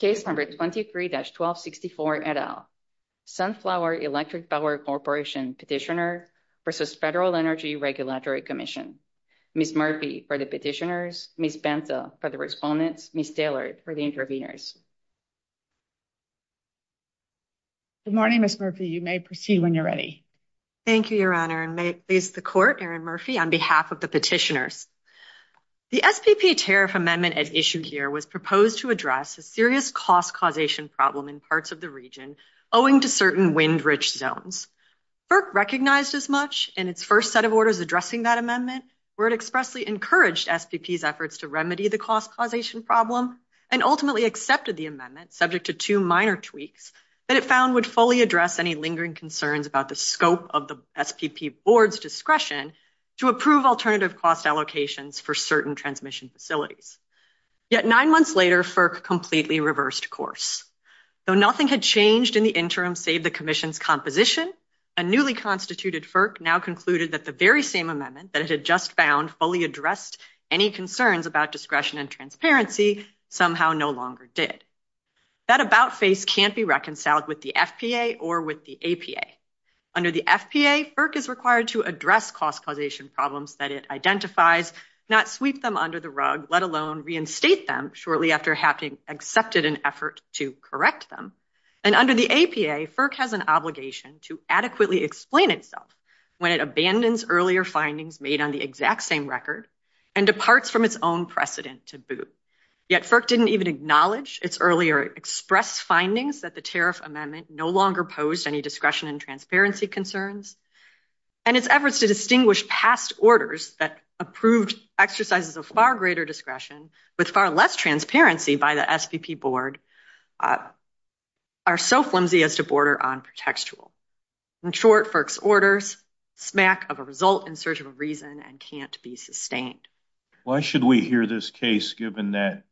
Case number 23-1264 et al. Sunflower Electric Power Corporation Petitioner v. Federal Energy Regulatory Commission. Ms. Murphy for the petitioners, Ms. Bentha for the respondents, Ms. Taylor for the interviewers. Good morning, Ms. Murphy. You may proceed when you're ready. Thank you, Your Honor. And may it please the Court, Erin Murphy, on behalf of the petitioners. The SPP tariff amendment at issue here was proposed to address a serious cost causation problem in parts of the region owing to certain wind-rich zones. FERC recognized this much in its first set of orders addressing that amendment, where it expressly encouraged SPP's efforts to remedy the cost causation problem, and ultimately accepted the amendment, subject to two minor tweaks, that it found would fully address any lingering concerns about the scope of the SPP Board's discretion to approve alternative cost allocations for certain transmission facilities. Yet nine months later, FERC completely reversed course. Though nothing had changed in the interim save the Commission's composition, a newly constituted FERC now concluded that the very same amendment that it had just found fully addressed any concerns about discretion and transparency somehow no longer did. That about-face can't be reconciled with the FPA or with the APA. Under the FPA, FERC is required to address cost causation problems that it identifies, not sweep them under the rug, let alone reinstate them shortly after having accepted an effort to correct them. And under the APA, FERC has an obligation to adequately explain itself when it abandons earlier findings made on the exact same record and departs from its own precedent to boot. Yet FERC didn't even acknowledge its earlier expressed findings that the tariff amendment no longer posed any discretion and transparency concerns, and its efforts to distinguish past orders that approved exercises of far greater discretion with far less transparency by the SPP Board are so flimsy as to border on contextual. In short, FERC's orders smack of a result in search of a reason and can't be sustained. Why should we hear this case given that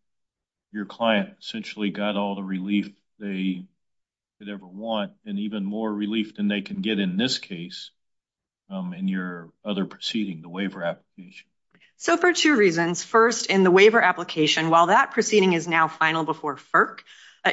your client essentially got all the relief they could ever want and even more relief than they can get in this case in your other proceeding, the waiver application? So for two reasons. First, in the waiver application, while that proceeding is now final before FERC,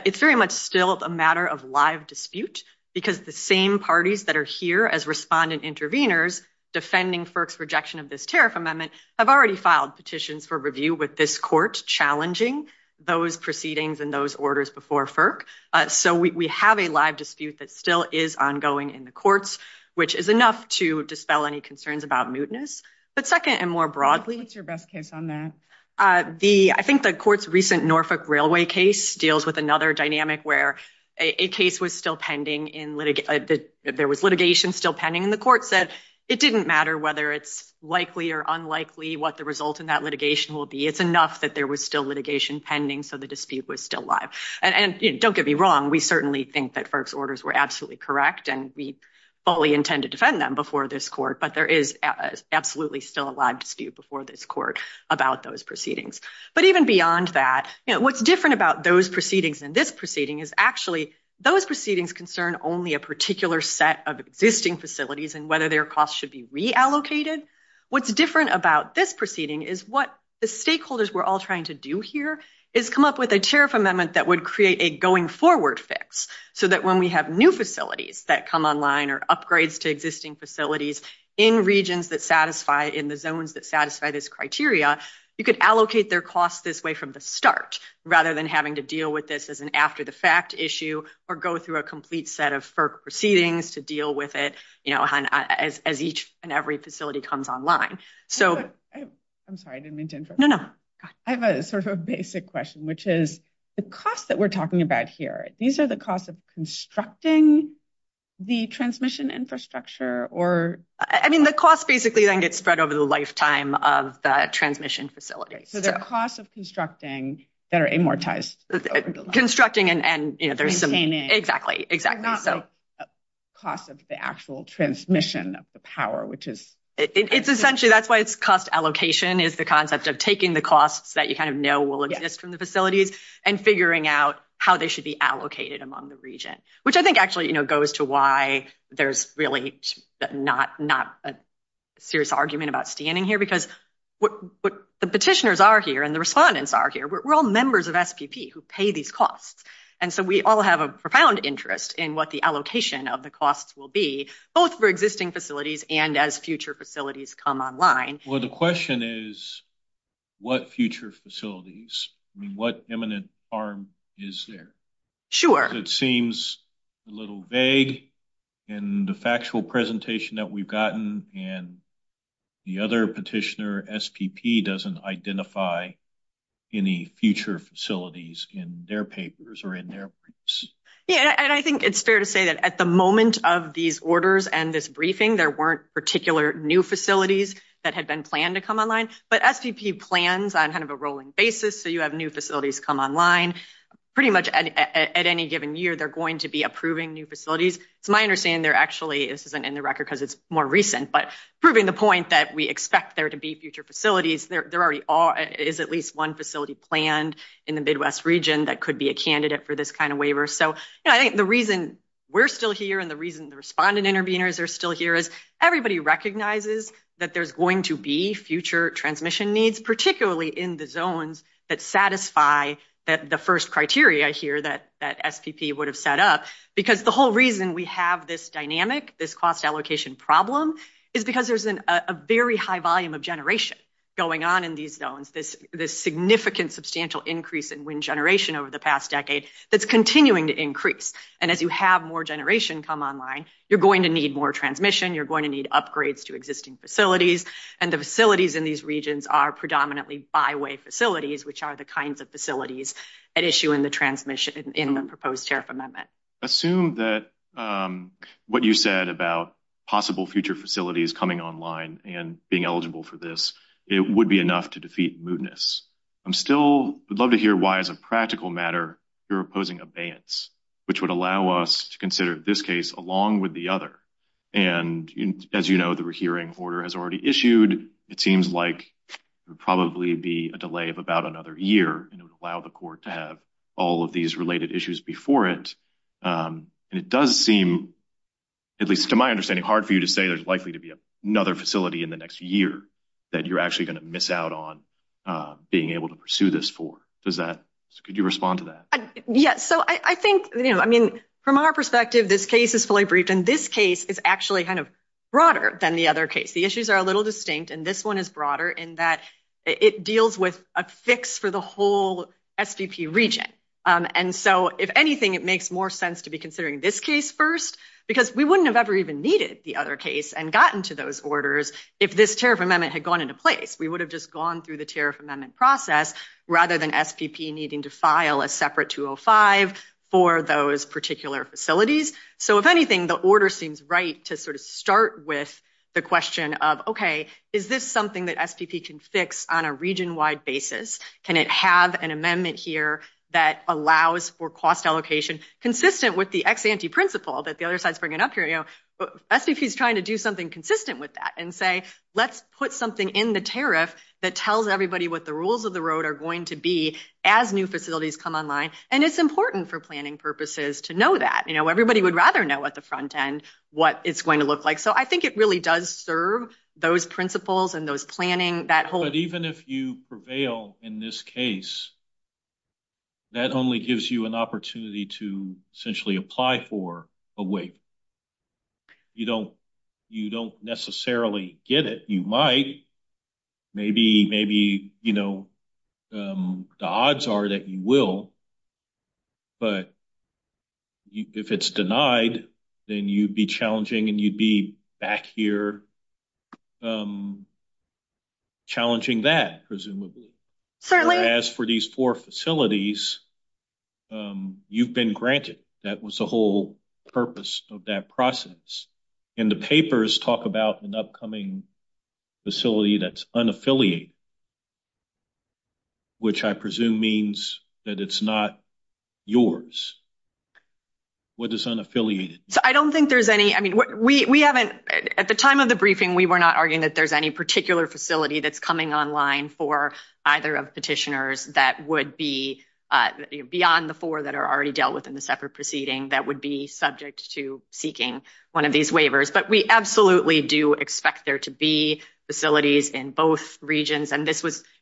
it's very much still a matter of live dispute because the same parties that are here as respondent interveners defending FERC's rejection of this tariff amendment have already filed petitions for review with this challenging those proceedings and those orders before FERC. So we have a live dispute that still is ongoing in the courts, which is enough to dispel any concerns about mootness. But second, and more broadly, I think the court's recent Norfolk Railway case deals with another dynamic where a case was still pending, there was litigation still pending, and the court said it didn't matter whether it's likely or unlikely what the result in that litigation will be. It's that there was still litigation pending, so the dispute was still live. And don't get me wrong, we certainly think that FERC's orders were absolutely correct, and we fully intend to defend them before this court, but there is absolutely still a live dispute before this court about those proceedings. But even beyond that, what's different about those proceedings and this proceeding is actually those proceedings concern only a particular set of existing facilities and whether their costs should be reallocated. What's different about this proceeding is what the stakeholders were all trying to do here is come up with a chair of amendment that would create a going forward fix, so that when we have new facilities that come online or upgrades to existing facilities in regions that satisfy, in the zones that satisfy this criteria, you could allocate their costs this way from the start, rather than having to deal with this as an after-the-fact issue or go through a complete set of FERC proceedings to deal with it as each and every facility comes online. So... I'm sorry, I didn't mean to interrupt. No, no. I have a sort of a basic question, which is the cost that we're talking about here, these are the costs of constructing the transmission infrastructure or... I mean, the cost basically then gets spread over the lifetime of the transmission facility. So the cost of constructing that are amortized... Constructing and there's some... Exactly, exactly. Not the cost of the actual transmission of the power, which is... It's essentially, that's why it's cost allocation, is the concept of taking the costs that you kind of know will exist from the facility and figuring out how they should be allocated among the region, which I think actually, you know, goes to why there's really not a serious argument about standing here, because what the petitioners are here and the respondents are here, we're all members of SPP who pay these costs. And so we all have a profound interest in what the allocation of the costs will be, both for existing facilities and as future facilities come online. Well, the question is, what future facilities? I mean, what imminent harm is there? Sure. It seems a little vague in the factual presentation that we've gotten and the other petitioner, SPP, doesn't identify any future facilities in their papers or in their briefs. Yeah, and I think it's fair to say that at the moment of these orders and this briefing, there weren't particular new facilities that had been planned to come online, but SPP plans on kind of a rolling basis, so you have new facilities come online. Pretty much at any given year, they're going to be approving new facilities. It's my understanding they're actually... This isn't in the record because it's more recent, but proving the point that we expect there to be future facilities, there is at least one facility planned in the Midwest region that could be a candidate for this kind of waiver. So I think the reason we're still here and the reason the respondent interveners are still here is everybody recognizes that there's going to be future transmission needs, particularly in the zones that satisfy the first criteria here that SPP would have set up. Because the whole reason we have this dynamic, this cost allocation problem, is because there's a very high volume of generation going on in these zones, this significant substantial increase in wind generation over the past decade that's continuing to increase. And as you have more generation come online, you're going to need more transmission, you're going to need upgrades to existing facilities, and the facilities in these regions are predominantly byway facilities, which are the kinds of facilities at issue in the proposed tariff amendment. Assume that what you said about possible future facilities coming online and being eligible for this, it would be enough to defeat mootness. I'm still, I'd love to hear why as a practical matter, you're opposing abeyance, which would allow us to consider this case along with the other. And as you know, the rehearing order has already issued. It seems like there'll probably be a delay of about another year that would allow the court to have all of these related issues before it. And it does seem, at least to my understanding, hard for you to say there's likely to be another facility in the next year that you're actually going to miss out on being able to pursue this for. Does that, could you respond to that? Yes. So I think, you know, I mean, from our perspective, this case is fully briefed. And this case is actually kind of broader than the other case. The issues are a fix for the whole SDP region. And so if anything, it makes more sense to be considering this case first, because we wouldn't have ever even needed the other case and gotten to those orders. If this tariff amendment had gone into place, we would have just gone through the tariff amendment process rather than SDP needing to file a separate 205 for those particular facilities. So if anything, the order seems right to sort of start with the question of, okay, is this something that SDP can fix on a region-wide basis? Can it have an amendment here that allows for cost allocation consistent with the ex-ante principle that the other side is bringing up here? You know, SDP is trying to do something consistent with that and say, let's put something in the tariff that tells everybody what the rules of the road are going to be as new facilities come online. And it's important for planning purposes to know that. You know, everybody would rather know at the front end what it's going to look like. So I think it really does serve those principles and planning that whole- But even if you prevail in this case, that only gives you an opportunity to essentially apply for a wing. You don't necessarily get it. You might. Maybe the odds are that you will, but if it's denied, then you'd be challenging and you'd back here challenging that, presumably. Certainly. As for these four facilities, you've been granted. That was the whole purpose of that process. And the papers talk about an upcoming facility that's unaffiliated, which I presume means that it's not yours. What is unaffiliated? I don't think there's any. At the time of the briefing, we were not arguing that there's any particular facility that's coming online for either of the petitioners that would be beyond the four that are already dealt with in the separate proceeding that would be subject to seeking one of these waivers. But we absolutely do expect there to be facilities in both regions.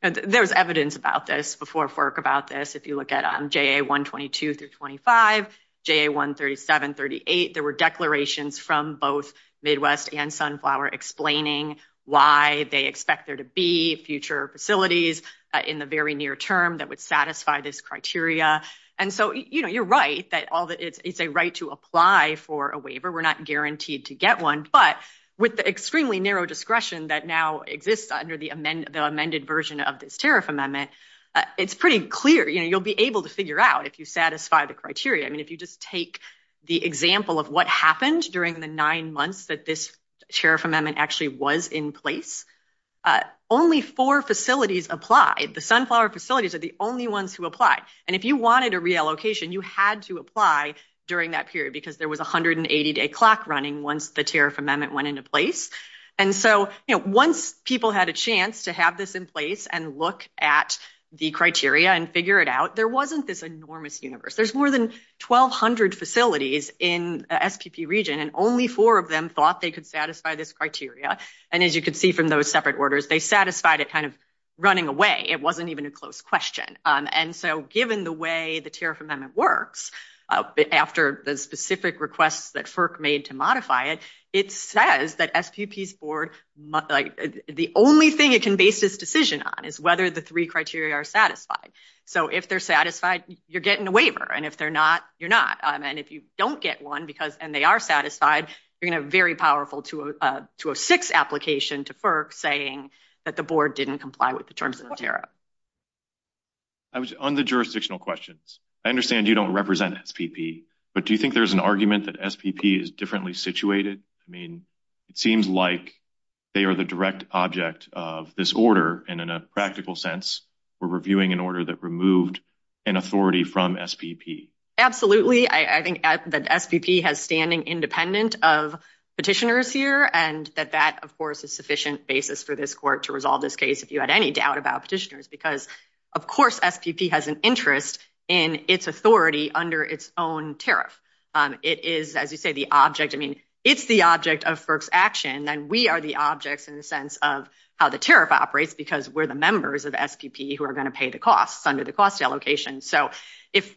There's evidence about this before FERC about this. If you look at JA-122 through 25, JA-137, 38, there were declarations from both Midwest and Sunflower explaining why they expect there to be future facilities in the very near term that would satisfy this criteria. And so you're right that it's a right to apply for a waiver. We're not guaranteed to get one, but with the extremely narrow discretion that now exists under the amended version of this tariff amendment, it's pretty clear. You'll be able to figure out if you satisfy the criteria. If you just take the example of what happened during the nine months that this tariff amendment actually was in place, only four facilities applied. The Sunflower facilities are the only ones who applied. And if you wanted a reallocation, you had to apply during that because there was 180-day clock running once the tariff amendment went into place. And so once people had a chance to have this in place and look at the criteria and figure it out, there wasn't this enormous universe. There's more than 1,200 facilities in the STP region, and only four of them thought they could satisfy this criteria. And as you can see from those separate orders, they satisfied it kind of running away. It wasn't even a close question. And so given the way the tariff amendment works, after the specific requests that FERC made to modify it, it says that STP's board, the only thing it can base this decision on is whether the three criteria are satisfied. So if they're satisfied, you're getting a waiver. And if they're not, you're not. And if you don't get one and they are satisfied, you're going to have very powerful to a six application to FERC saying that the board didn't comply with the terms of the On the jurisdictional questions, I understand you don't represent SPP, but do you think there's an argument that SPP is differently situated? I mean, it seems like they are the direct object of this order and in a practical sense, we're reviewing an order that removed an authority from SPP. Absolutely. I think that SPP has standing independent of petitioners here and that that, of course, is sufficient basis for this court to resolve this case if you had any doubt about petitioners, because of course, SPP has an interest in its authority under its own tariff. It is, as you say, the object, I mean, it's the object of FERC's action and we are the objects in the sense of how the tariff operates because we're the members of SPP who are going to pay the costs under the cost allocation. So if,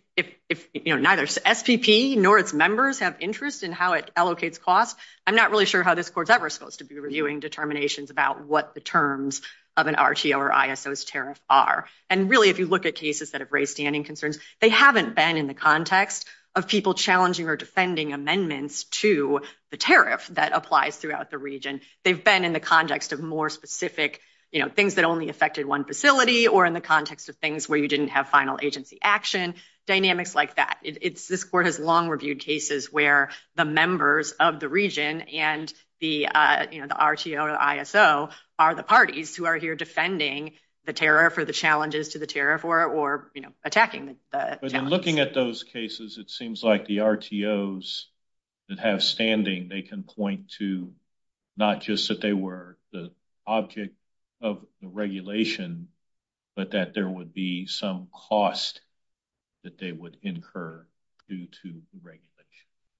you know, neither SPP nor its members have interest in how it allocates costs, I'm not really sure how this court's ever supposed to be reviewing determinations about what the terms of an RTO or ISO's tariff are. And really, if you look at cases that have raised standing concerns, they haven't been in the context of people challenging or defending amendments to the tariff that applies throughout the region. They've been in the context of more specific, you know, things that only affected one facility or in the context of things where you didn't have final agency action, dynamics like that. This court has long reviewed cases where the members of the region and the, you know, the RTO or ISO are the parties who are here defending the tariff or the challenges to the tariff or, you know, attacking the tariff. In looking at those cases, it seems like the RTOs that have standing, they can point to not just that they were the object of regulation, but that there would be some cost that they would incur due to regulation.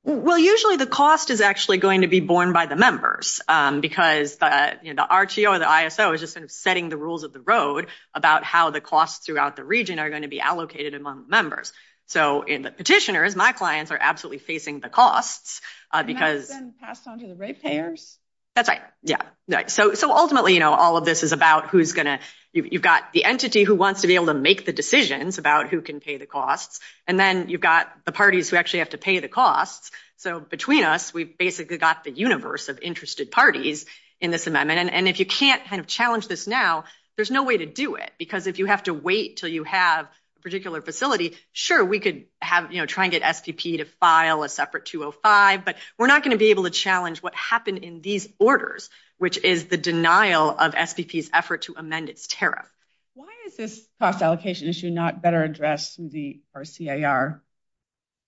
Well, usually the cost is actually going to be borne by the members because, you know, the RTO or the ISO is just sort of setting the rules of the road about how the costs throughout the region are going to be allocated among members. So, in the petitioners, my clients are absolutely facing the costs because... And that's been passed on to the rate payers? That's right, yeah. So, ultimately, you know, all of this is about who's going to, you've got the entity who wants to be able to make the decisions about who can pay the costs, and then you've got the parties who actually have to pay the costs. So, between us, we've basically got the universe of interested parties in this amendment. And if you can't kind of challenge this now, there's no way to do it because if you have to wait till you have a particular facility, sure, we could have, you know, try and get SPP to file a separate 205, but we're not going to be able to challenge what happened in these orders, which is the denial of SPP's effort to amend its tariff. Why is this cost allocation issue not better addressed through the CIR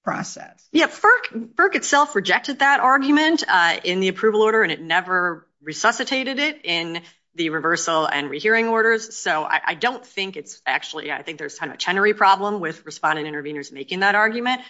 process? Yeah, FERC itself rejected that argument in the approval order, and it never resuscitated it in the reversal and rehearing orders. So, I don't think it's actually, I think there's kind of a tenery problem with respondent interveners making that argument,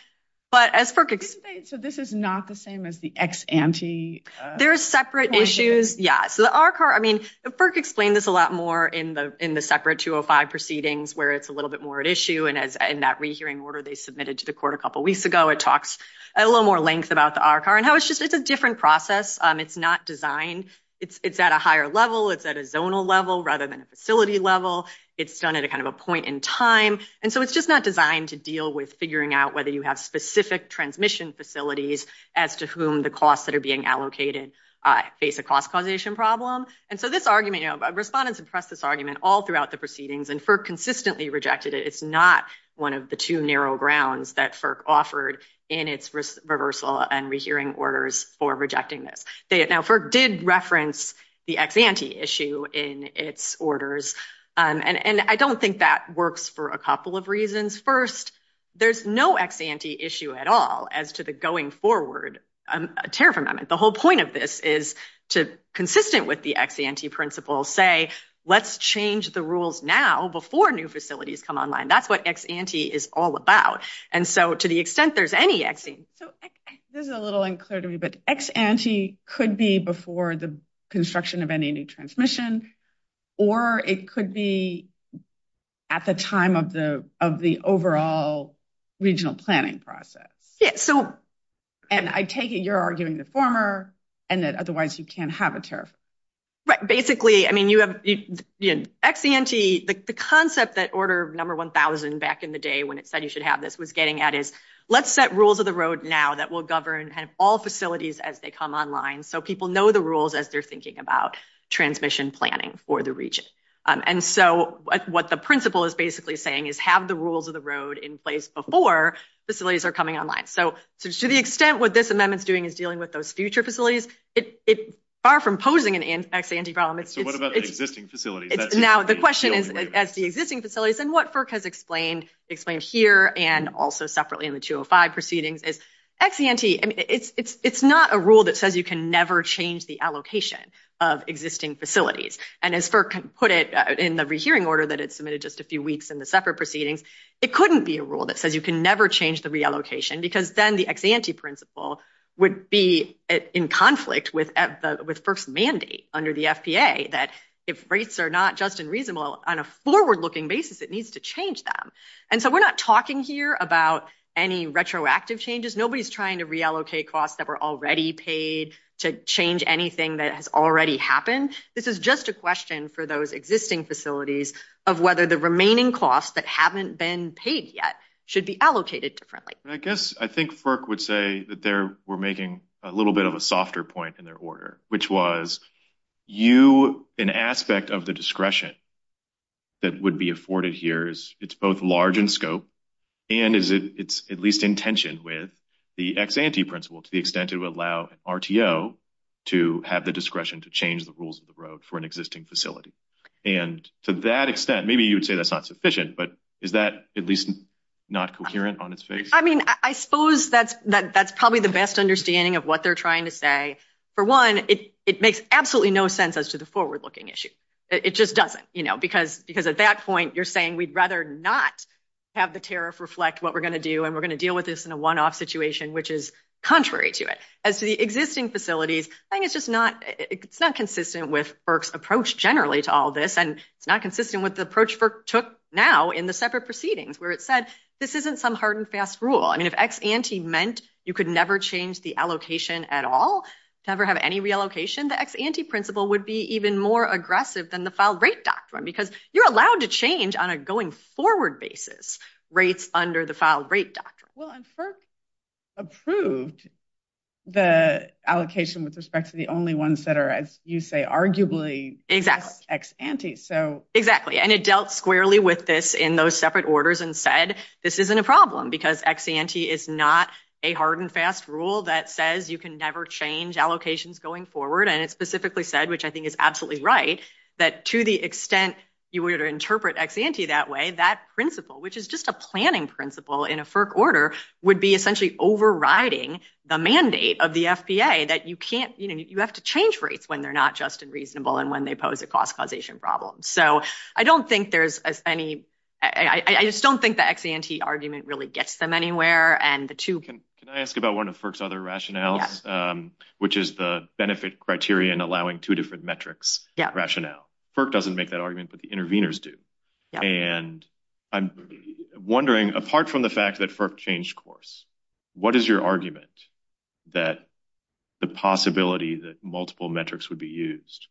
but as FERC... So, this is not the same as the ex-ante? There are separate issues, yeah. So, the RCAR, I mean, FERC explained this a lot more in the separate 205 proceedings where it's a little bit more at issue, and in that rehearing order they submitted to the court a couple weeks ago, it talks at a little more length about the RCAR and how it's just like a different process. It's not designed. It's at a higher level. It's at a zonal level rather than a facility level. It's done at kind of a point in time. And so, it's just not designed to deal with figuring out whether you have specific transmission facilities as to whom the costs that are being allocated face a cost causation problem. And so, this argument, respondents have pressed this argument all throughout the proceedings, and FERC consistently rejected it. It's not one of the two narrow grounds that FERC offered in its reversal and rehearing orders for rejecting this. Now, FERC did reference the ex-ante issue in its orders, and I don't think that works for a couple of reasons. First, there's no ex-ante issue at all as to the going forward tariff amendment. The whole point of this is to, consistent with the ex-ante principle, say, let's change the rules now before new facilities come online. That's what ex-ante is all about. And so, to the extent there's any ex-ante. This is a little unclear to me, but ex-ante could be before the construction of any new transmission, or it could be at the time of the overall regional planning process. And I take it you're arguing the former, and that otherwise you can't have a tariff. Right. Basically, I mean, you have the ex-ante, the concept that order number 1,000 back in the day when it said you should have this was getting at is, let's set rules of now that will govern all facilities as they come online so people know the rules as they're thinking about transmission planning for the region. And so, that's what the principle is basically saying, is have the rules of the road in place before facilities are coming online. So, to the extent what this amendment's doing is dealing with those future facilities, it's far from posing an ex-ante problem. So, what about existing facilities? Now, the question is, as the existing facilities, and what FERC has explained here and also separately in the 205 proceedings, is ex-ante, I mean, it's not a rule that says you can never change the allocation of existing facilities. And as FERC put it in the rehearing order that it submitted just a few weeks in the separate proceedings, it couldn't be a rule that says you can never change the reallocation because then the ex-ante principle would be in conflict with FERC's mandate under the FDA that if rates are not just and reasonable on a forward-looking basis, it needs to change them. And so, we're not talking here about any retroactive changes. Nobody's trying to reallocate costs that were already paid to change anything that has already happened. This is just a question for those existing facilities of whether the remaining costs that haven't been paid yet should be allocated differently. I guess I think FERC would say that they were making a little bit of a softer point in their it's both large in scope and it's at least in tension with the ex-ante principle to the extent it would allow RTO to have the discretion to change the rules of the road for an existing facility. And to that extent, maybe you would say that's not sufficient, but is that at least not coherent on its face? I mean, I suppose that's probably the best understanding of what they're trying to say. For one, it makes absolutely no sense as to the forward-looking issue. It just doesn't, you know, because at that point, you're saying we'd rather not have the tariff reflect what we're going to do and we're going to deal with this in a one-off situation, which is contrary to it. As to the existing facilities, I think it's just not consistent with FERC's approach generally to all this and not consistent with the approach FERC took now in the separate proceedings where it said this isn't some hard and fast rule. And if ex-ante meant you could never change the allocation at all, never have any reallocation, the ex-ante principle would be even more aggressive than the filed rate doctrine because you're allowed to change on a going-forward basis rates under the filed rate doctrine. Well, and FERC approved the allocation with respect to the only ones that are, as you say, arguably ex-ante. Exactly. And it dealt squarely with this in those separate orders and said this isn't a problem because ex-ante is not a hard and fast rule that says you can never change allocations going forward. And it specifically said, which I think is absolutely right, that to the extent you were to interpret ex-ante that way, that principle, which is just a planning principle in a FERC order, would be essentially overriding the mandate of the FBA that you can't, you know, you have to change rates when they're not just and reasonable and when they pose a cost causation problem. So I don't think there's as any, I just don't think the ex-ante argument really gets them anywhere and the two can... Can I ask about one of two different metrics rationale. FERC doesn't make that argument, but the interveners do. And I'm wondering, apart from the fact that FERC changed course, what is your argument that the possibility that multiple metrics would be used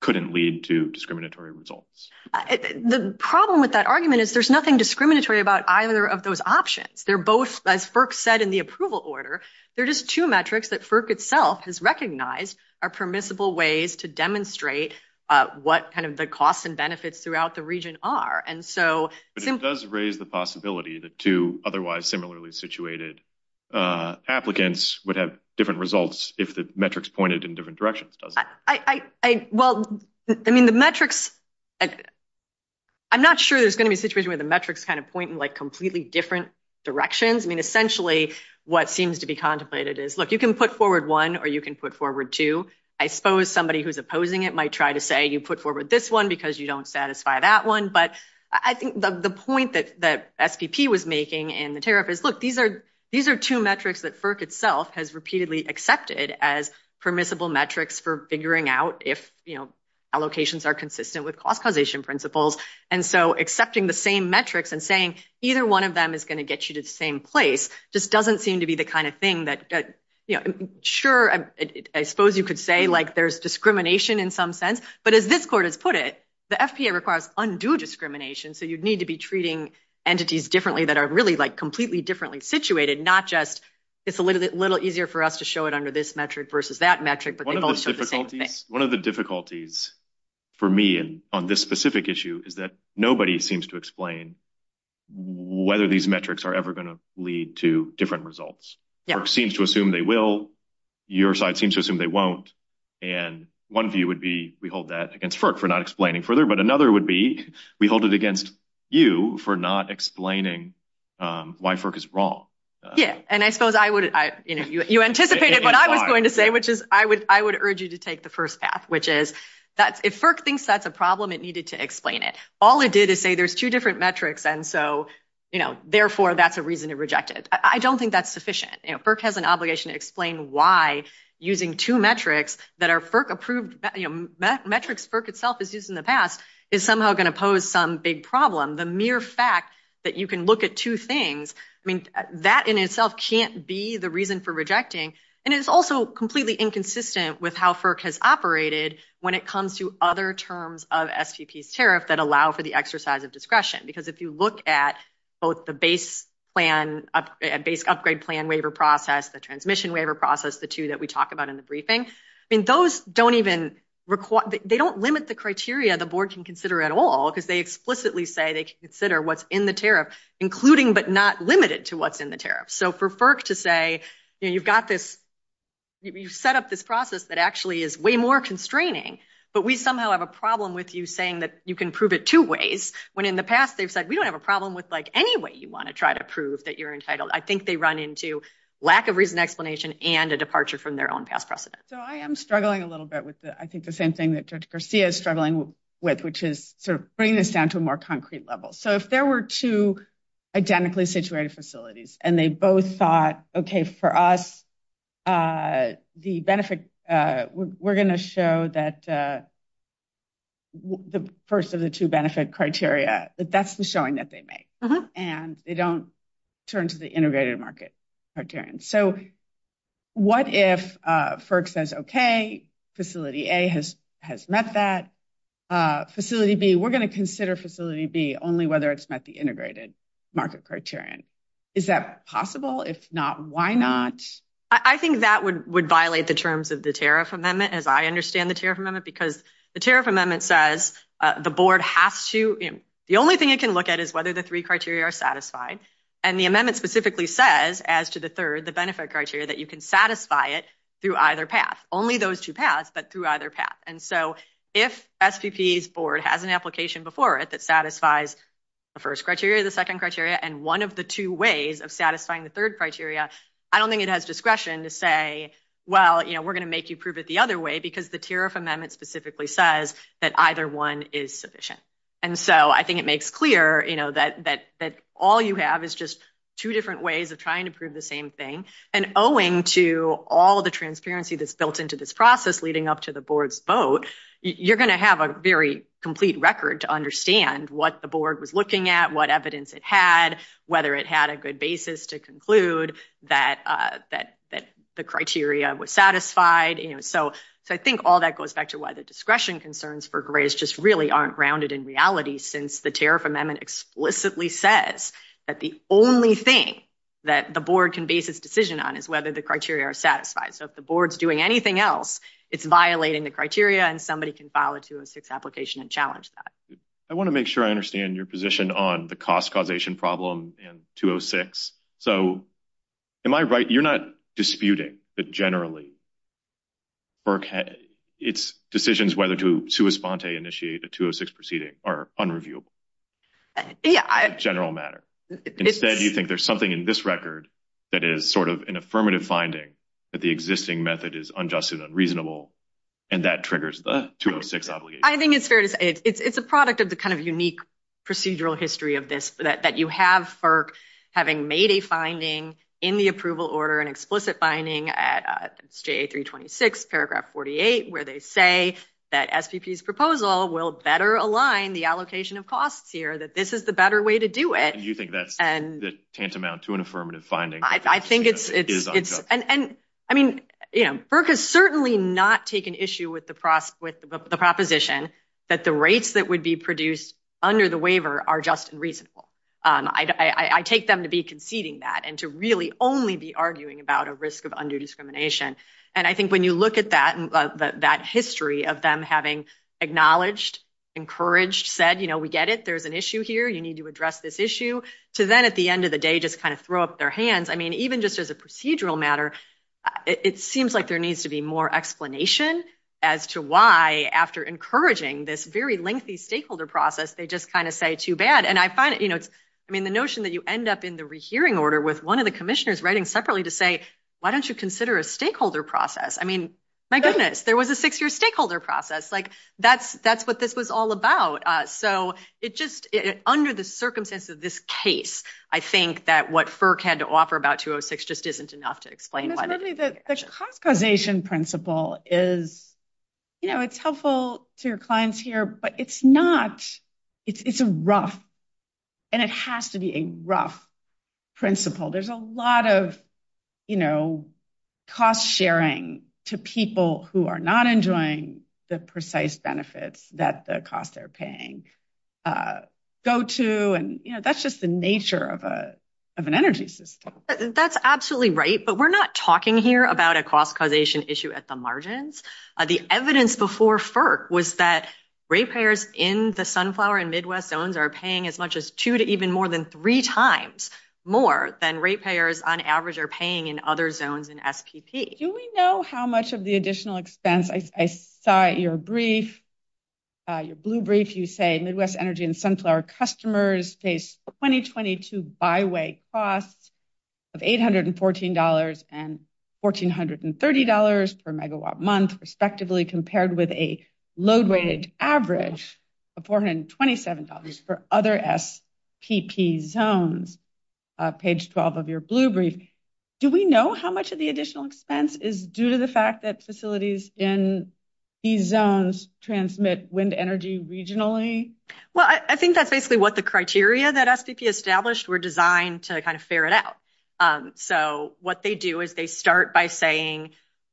couldn't lead to discriminatory results? The problem with that argument is there's nothing discriminatory about either of those options. They're both, as FERC said in the approval order, they're just two metrics that FERC itself has recognized are permissible ways to demonstrate what kind of the costs and benefits throughout the region are. And so... But it does raise the possibility that two otherwise similarly situated applicants would have different results if the metrics pointed in different directions. Well, I mean, the metrics... I'm not sure there's going to be a situation where the metrics kind of point in like completely different directions. I mean, essentially what seems to be contemplated is, look, you can put forward one or you can put forward two. I suppose somebody who's opposing it might try to say you put forward this one because you don't satisfy that one. But I think the point that the FTP was making in the tariff is, look, these are two metrics that FERC itself has repeatedly accepted as permissible metrics for figuring out if allocations are consistent with cost causation principles. And so accepting the same metrics and saying either one of them is going to get you to the same place just doesn't seem to be the kind of thing that... Sure, I suppose you could say there's discrimination in some sense. But as this court has put it, the FTA requires undue discrimination. So you'd need to be treating entities differently that are really completely differently situated, not just it's a little easier for us to show it under this metric versus that metric. One of the difficulties for me on this specific issue is that nobody seems to explain whether these metrics are ever going to lead to different results. FERC seems to assume they will. Your side seems to assume they won't. And one view would be we hold that against FERC for not explaining further. But another would be we hold it against you for not explaining why FERC is wrong. Yeah, and I suppose you anticipated what I was going to say, which is I would urge you to take the first path, which is that if FERC thinks that's a problem, it needed to explain it. All it did is say there's two different metrics and so therefore that's a reason to reject it. I don't think that's sufficient. FERC has an obligation to explain why using two metrics that are FERC-approved, metrics FERC itself has used in the past, is somehow going to pose some big problem. The mere fact that you can look at two things, I mean, that in itself can't be the reason for rejecting. And it's also completely inconsistent with how FERC has operated when it comes to other terms of STPs tariff that allow for the exercise of discretion. Because if you look at both the base plan, base upgrade plan waiver process, the transmission waiver process, the two that we talk about in the briefing, those don't even require, they don't limit the criteria the board can consider at all because they explicitly say they can consider what's in the tariff, including but not limited to what's in the tariff. So for FERC to say, you know, you've got this, you've set up this process that actually is way more constraining, but we somehow have a problem with you saying that you can prove it two ways, when in the past they've said we don't have a problem with like any way you want to try to prove that you're entitled. I think they run into lack of reason explanation and a departure from their own past precedent. So I am struggling a little bit with the, I think the same thing that Judge Garcia is struggling with, which is sort of bringing this down to a concrete level. So if there were two identically situated facilities and they both thought, okay, for us, the benefit, we're going to show that the first of the two benefit criteria, that's the showing that they make. And they don't turn to the integrated market criterion. So what if FERC says, okay, facility A has met that. Facility B, we're going to consider facility B only whether it's met the integrated market criterion. Is that possible? If not, why not? I think that would violate the terms of the tariff amendment, as I understand the tariff amendment, because the tariff amendment says the board has to, the only thing it can look at is whether the three criteria are satisfied. And the amendment specifically says as to the third, benefit criteria, that you can satisfy it through either path, only those two paths, but through either path. And so if SPP's board has an application before it, that satisfies the first criteria, the second criteria, and one of the two ways of satisfying the third criteria, I don't think it has discretion to say, well, we're going to make you prove it the other way because the tariff amendment specifically says that either one is sufficient. And so I think it makes clear that all you have is just two different ways of trying to prove the same thing. And owing to all the transparency that's built into this process leading up to the board's vote, you're going to have a very complete record to understand what the board was looking at, what evidence it had, whether it had a good basis to conclude that the criteria was satisfied. And so I think all that goes back to why the discretion concerns for grades just really aren't grounded in reality since the tariff amendment explicitly says that the only thing that the board can base its decision on is whether the criteria are satisfied. So if the board's doing anything else, it's violating the criteria and somebody can file a 206 application and challenge that. I want to make sure I understand your position on the cost causation problem in 206. So am I right? You're not disputing, but generally, it's decisions whether to initiate the 206 proceeding are unreviewable in general matter. Instead, you think there's something in this record that is sort of an affirmative finding that the existing method is unjust and unreasonable and that triggers the 206 obligation. I think it's a product of the kind of unique procedural history of this that you have FERC having made a finding in the approval will better align the allocation of costs here, that this is the better way to do it. And you think that's tantamount to an affirmative finding? I think it is. And I mean, FERC has certainly not taken issue with the proposition that the rates that would be produced under the waiver are just reasonable. I take them to be conceding that and to really only be arguing about a risk of undue discrimination. And I think when you look at that history of them having acknowledged, encouraged, said, you know, we get it, there's an issue here, you need to address this issue, to then at the end of the day, just kind of throw up their hands. I mean, even just as a procedural matter, it seems like there needs to be more explanation as to why after encouraging this very lengthy stakeholder process, they just kind of say too bad. And I find, you know, I mean, the notion that you end up in the rehearing order with one of the commissioners writing separately to say, why don't you consider a stakeholder process? I mean, my goodness, there was a six-year stakeholder process. Like, that's what this was all about. So it just, under the circumstances of this case, I think that what FERC had to offer about 206 just isn't enough to explain why. Certainly the compensation principle is, you know, it's helpful to your clients here, but it's not, it's a rough, and it has to be a rough principle. There's a lot of, you know, cost sharing to people who are not enjoying the precise benefits that the cost they're paying go to. And, you know, that's just the nature of an energy system. That's absolutely right. But we're not talking here about a cost causation issue at the margins. The evidence before FERC was that ratepayers in the Sunflower and Midwest zones are paying as much as two to even more than three times more than ratepayers on average are paying in other zones in FPP. Do we know how much of the additional expense, I saw your brief, your blue brief, you say Midwest Energy and Sunflower customers face 2022 by-way costs of $814 and $1430 per megawatt month, respectively, compared with a load-weighted average of $427 for other FPP zones? Page 12 of your blue brief. Do we know how much of the additional expense is due to the fact that facilities in these zones transmit wind energy regionally? Well, I think that's basically what the criteria that FPP established were designed to kind of ferret out. So, what they do is they start by saying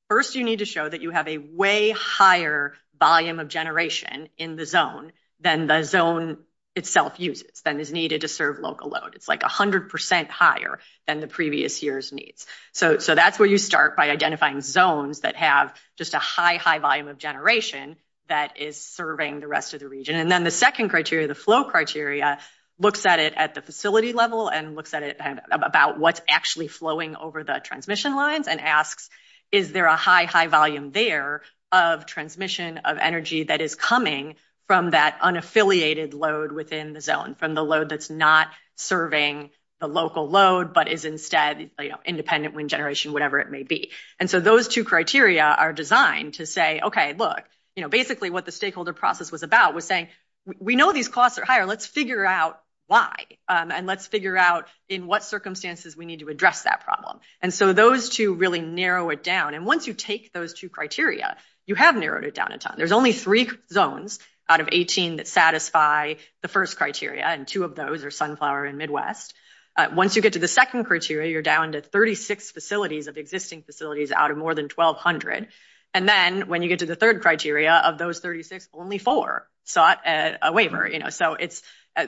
first you need to show that you have a way higher volume of generation in the zone than the zone itself uses, than is needed to serve local load. It's like 100 percent higher than the previous year's needs. So, that's where you start by identifying zones that have just a high, high volume of generation that is serving the rest of the region. And then the second criteria, the flow criteria, looks at it at the facility level and looks at it about what's actually flowing over the transmission lines and asks is there a high, high volume there of transmission of energy that is coming from that unaffiliated load within the zone, from the load that's not serving the local load but is instead independent wind generation, whatever it may be. And so, those two criteria are designed to say, okay, look, basically what the stakeholder process was about was saying we know these costs are higher. Let's figure out why, and let's figure out in what circumstances we need to address that problem. And so, those two really narrow it down. And once you take those two criteria, you have narrowed it down a ton. There's only three zones out of 18 that satisfy the first criteria, and two of those are Sunflower and Midwest. Once you get to the second criteria, you're down to 36 facilities of existing facilities out of more than 1,200. And then when you get to the third criteria of those 36, only four sought a waiver. So, it's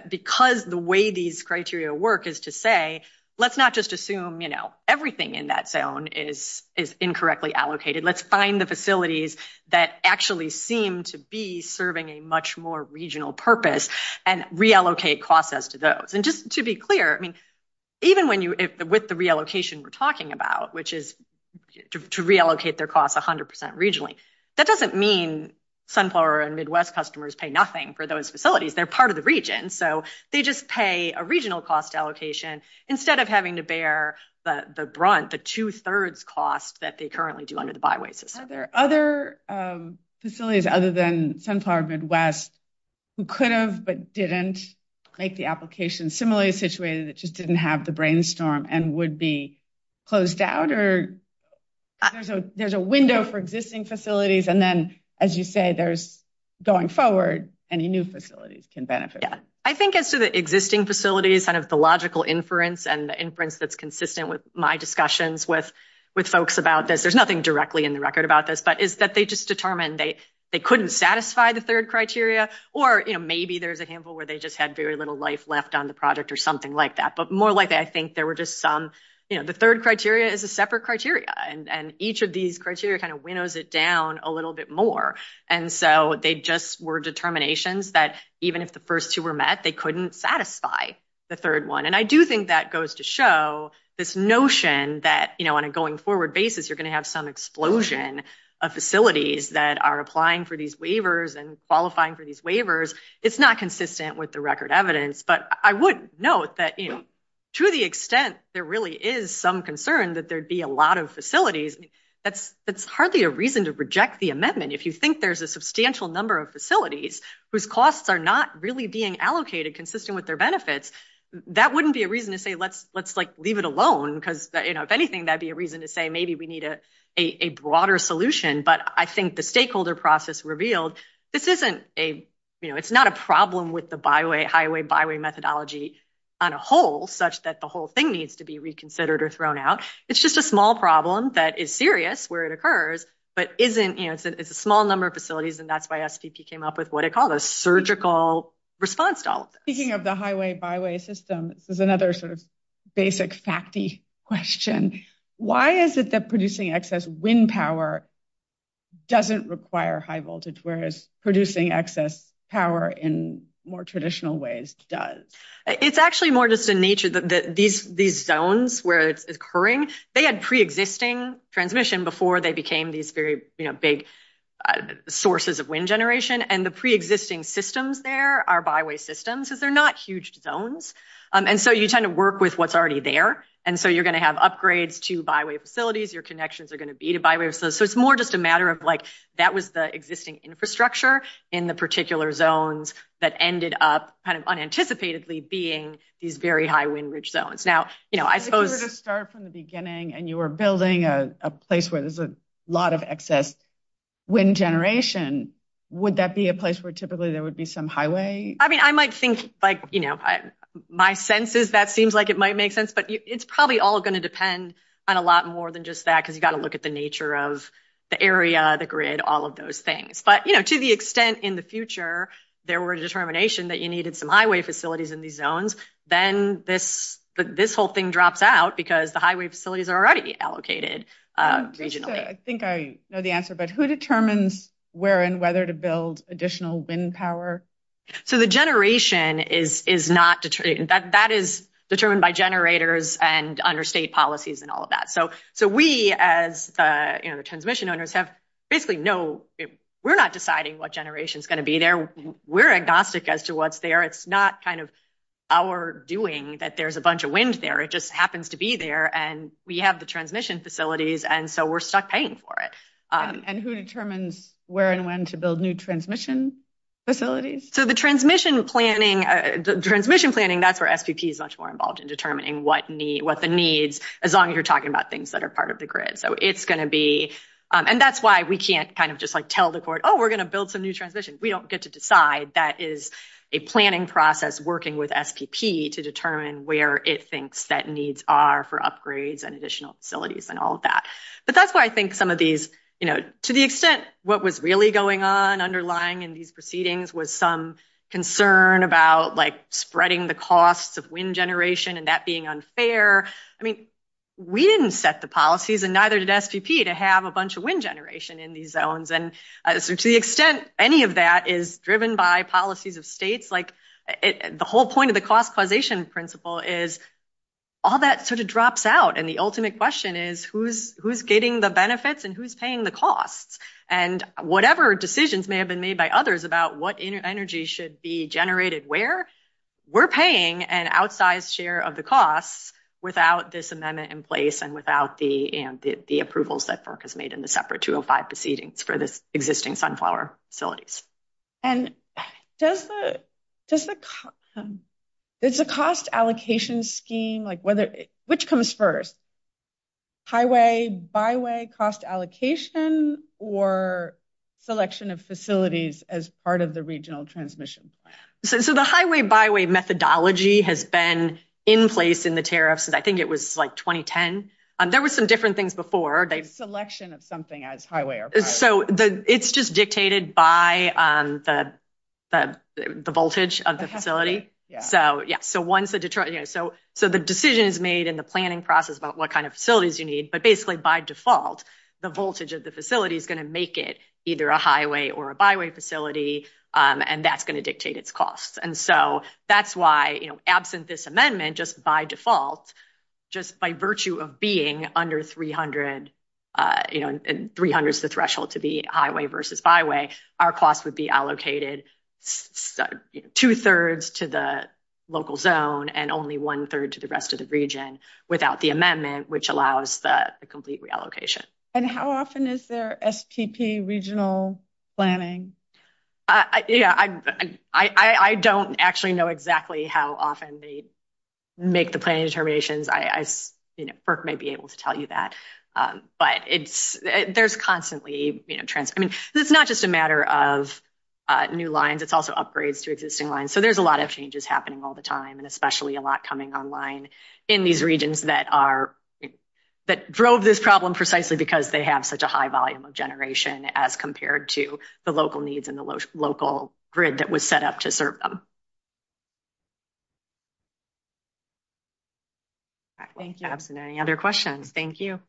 because the way these criteria work is to say let's not just assume everything in that zone is incorrectly allocated. Let's find the facilities that actually seem to be serving a much more regional purpose and reallocate costs as to those. And just to be clear, I mean, even with the reallocation we're talking about, which is to reallocate their costs 100% regionally. That doesn't mean Sunflower and Midwest customers pay nothing for those facilities. They're part of the region. So, they just pay a regional cost allocation instead of having to bear the brunt, the two-thirds cost that they currently do under the byways. Are there other facilities other than Sunflower and Midwest who could have but didn't make the application similarly situated that just didn't have the brainstorm and would be closed out? Or there's a window for existing facilities and then, as you say, there's going forward any new facilities can benefit. Yeah. I think as to the existing facilities, kind of the logical inference and the inference that's consistent with my discussions with folks about this, there's nothing directly in the record about this, but is that they just determined they couldn't satisfy the third criteria. Or maybe there's a handful where they just had very little life left on the project or something like that. But more likely, I think there were just some, the third criteria is a separate criteria and each of these criteria kind of winnows it down a little bit more. And so, they just were determinations that even if the first two were met, they couldn't satisfy the third one. And I do think that goes to show this notion that on a going forward basis, you're going to have some explosion of facilities that are applying for these waivers and qualifying for these waivers. It's not consistent with the record evidence, but I would note that to the extent there really is some concern that there'd be a lot of facilities, that's hardly a reason to reject the amendment. If you think there's a substantial number of facilities whose costs are not really being allocated consistent with their benefits, that wouldn't be a reason to say, let's leave it alone because if anything, that'd be a reason to say maybe we need a broader solution. But I think the stakeholder process revealed, this isn't a, you know, it's not a problem with the highway-byway methodology on a whole such that the whole thing needs to be reconsidered or thrown out. It's just a small problem that is serious where it occurs, but isn't, you know, it's a small number of facilities and that's why SPP came up with what it calls a surgical response to all of this. Speaking of the highway-byway system, there's another sort of basic facty question. Why is it that producing excess wind power doesn't require high voltage, whereas producing excess power in more traditional ways does? It's actually more just the nature that these zones where it's occurring, they had pre-existing transmission before they became these very, you know, big sources of wind generation. And the pre-existing systems there are byway systems, so they're not huge zones. And so you kind of work with what's already there. And so you're going to have upgrades to byway facilities, your connections are going to be to byways. So it's more just a matter of like, that was the existing infrastructure in the particular zones that ended up kind of unanticipatedly being these very high wind-rich zones. Now, you know, I suppose... If you started from the beginning and you were building a place where there's a lot of excess wind generation, would that be a place where typically there would be some highway? I mean, I might think like, you know, my sense is that seems like it might make sense, but it's probably all going to depend on a lot more than just that, because you got to look at the nature of the area, the grid, all of those things. But, you know, to the extent in the future there were a determination that you needed some highway facilities in these zones, then this whole thing drops out because the highway facilities are already allocated regionally. I think I know the answer, but who determines where and whether to build additional wind power? So the generation is not... That is determined by generators and understate policies and all of that. So we, as the transmission owners, have basically no... We're not deciding what generation is going to be there. We're agnostic as to what's there. It's not kind of our doing that there's a bunch of wind there. It just happens to be there, and we have the transmission facilities, and so we're stuck paying for it. And who determines where and when to build new transmission facilities? So the transmission planning, the transmission planning not for SPP is much more involved in determining what the needs, as long as you're talking about things that are part of the grid. So it's going to be... And that's why we can't kind of just like tell the court, oh, we're going to build some new transmission. We don't get to decide. That is a planning process working with SPP to determine where it thinks that needs are for upgrades and additional facilities and all of that. But that's why I think some of these, you know, to the extent what was really going on underlying in these proceedings was some concern about like spreading the costs of wind generation and that being unfair. I mean, we didn't set the policies and neither did SPP to have a bunch of wind generation in these zones. And to the extent any of that is driven by policies of states, like the whole point of the cost causation principle is all that sort of drops out. And the ultimate question is who's getting the benefits and who's paying the costs? And whatever decisions may have been made by others about what energy should be generated where, we're paying an outsized share of the costs without this amendment in place and without the approvals that FERC has made in the separate 205 proceedings for the existing sunflower facilities. And does the cost allocation scheme, like whether, which comes first, highway byway cost allocation or selection of facilities as part of the regional transmission? So the highway byway methodology has been in place in the tariff. So I think it was like 2010. There were some different things before. The selection of something as highway. So it's just dictated by the voltage of the facility. So yeah, so once the Detroit, so the decision is made in the planning process about what kind of facilities you need, but basically by default, the voltage of the facility is going to make it either a highway or a byway facility. And that's going to dictate its costs. And so that's why absent this amendment, just by default, just by virtue of being under 300, and 300 is the threshold to be highway versus byway, our costs would be allocated two-thirds to the local zone and only one-third to the rest of the region without the amendment, which allows the complete reallocation. And how often is there STP regional planning? Yeah, I don't actually know exactly how often they make the planning determinations. FERC may be able to tell you that, but there's constantly trends. I mean, it's not just a matter of new lines. It's also upgrades to existing lines. So there's a lot of changes happening all the time, and especially a lot coming online in these regions that are, that drove this problem precisely because they have such a high volume of generation as compared to the local needs and the local grid that was set up to serve them. Okay. Thank you. And any other questions? Thank you.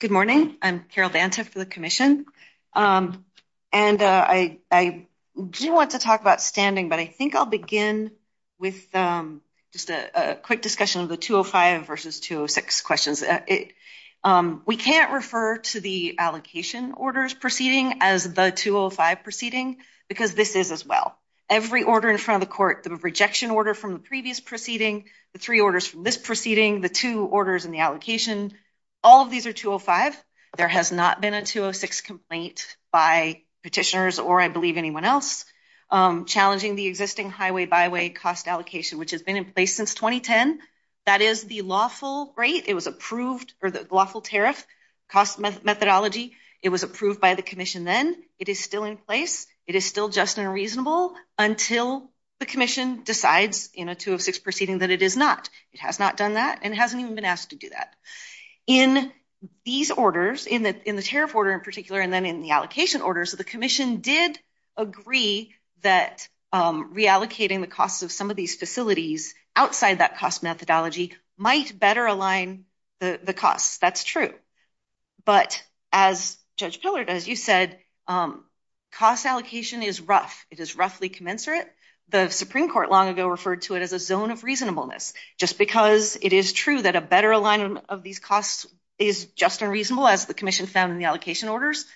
Good morning. I'm Carol Dancif for the commission. And I do want to talk about standing, but I think I'll begin with just a quick discussion of the 205 versus 206 questions. We can't refer to the allocation orders proceeding as the 205 proceeding because this is as well. Every order in front of the court, the rejection order from the previous proceeding, the three orders from this proceeding, the two orders in the allocation, all of these are 205. There has not been a 206 complaint by petitioners or I believe anyone else challenging the existing highway byway cost allocation, which has been in place since 2010. That is the lawful rate. It was approved or the lawful tariff cost methodology. It was approved by the commission then. It is still in place. It is still just and reasonable until the commission decides in a 206 proceeding that it is not. It has not done that and hasn't even been asked to do that. In these orders, in the tariff order in particular, and then in the allocation orders, the commission did agree that reallocating the cost of some of these facilities outside that cost methodology might better align the cost. That's true. But as Judge Dillard, as you said, cost allocation is rough. It is roughly commensurate. The Supreme Court long ago referred to it as a zone of reasonableness. Just because it is true that a better alignment of these costs is just and reasonable as the commission found in the allocation orders,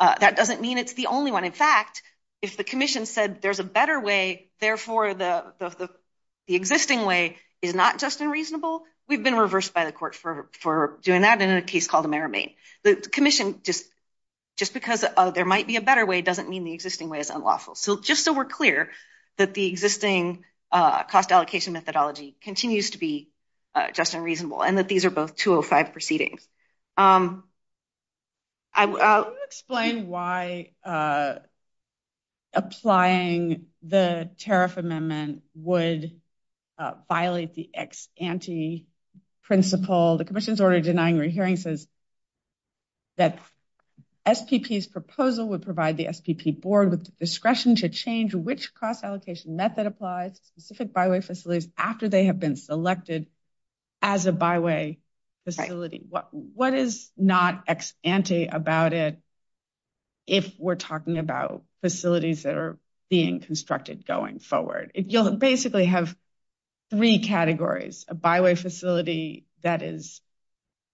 that doesn't mean it is the only one. In fact, if the commission said there is a better way, therefore the existing way is not just and reasonable, we have been reversed by the court for doing that in a case called the Merrimain. The commission, just because there might be a better way doesn't mean the existing way is unlawful. Just so we are clear that the existing cost allocation methodology continues to be just and reasonable and that these are both 205 proceedings. Can you explain why applying the tariff amendment would violate the ex-ante principle? The commission's order denying re-hearing says that SPP's proposal would provide the SPP board with the discretion to change which cost allocation method applies to specific by-way facilities after they have been selected as a by-way facility. What is not ex-ante about it if we are talking about facilities that are being constructed going forward? You will basically have three categories. A by-way facility that is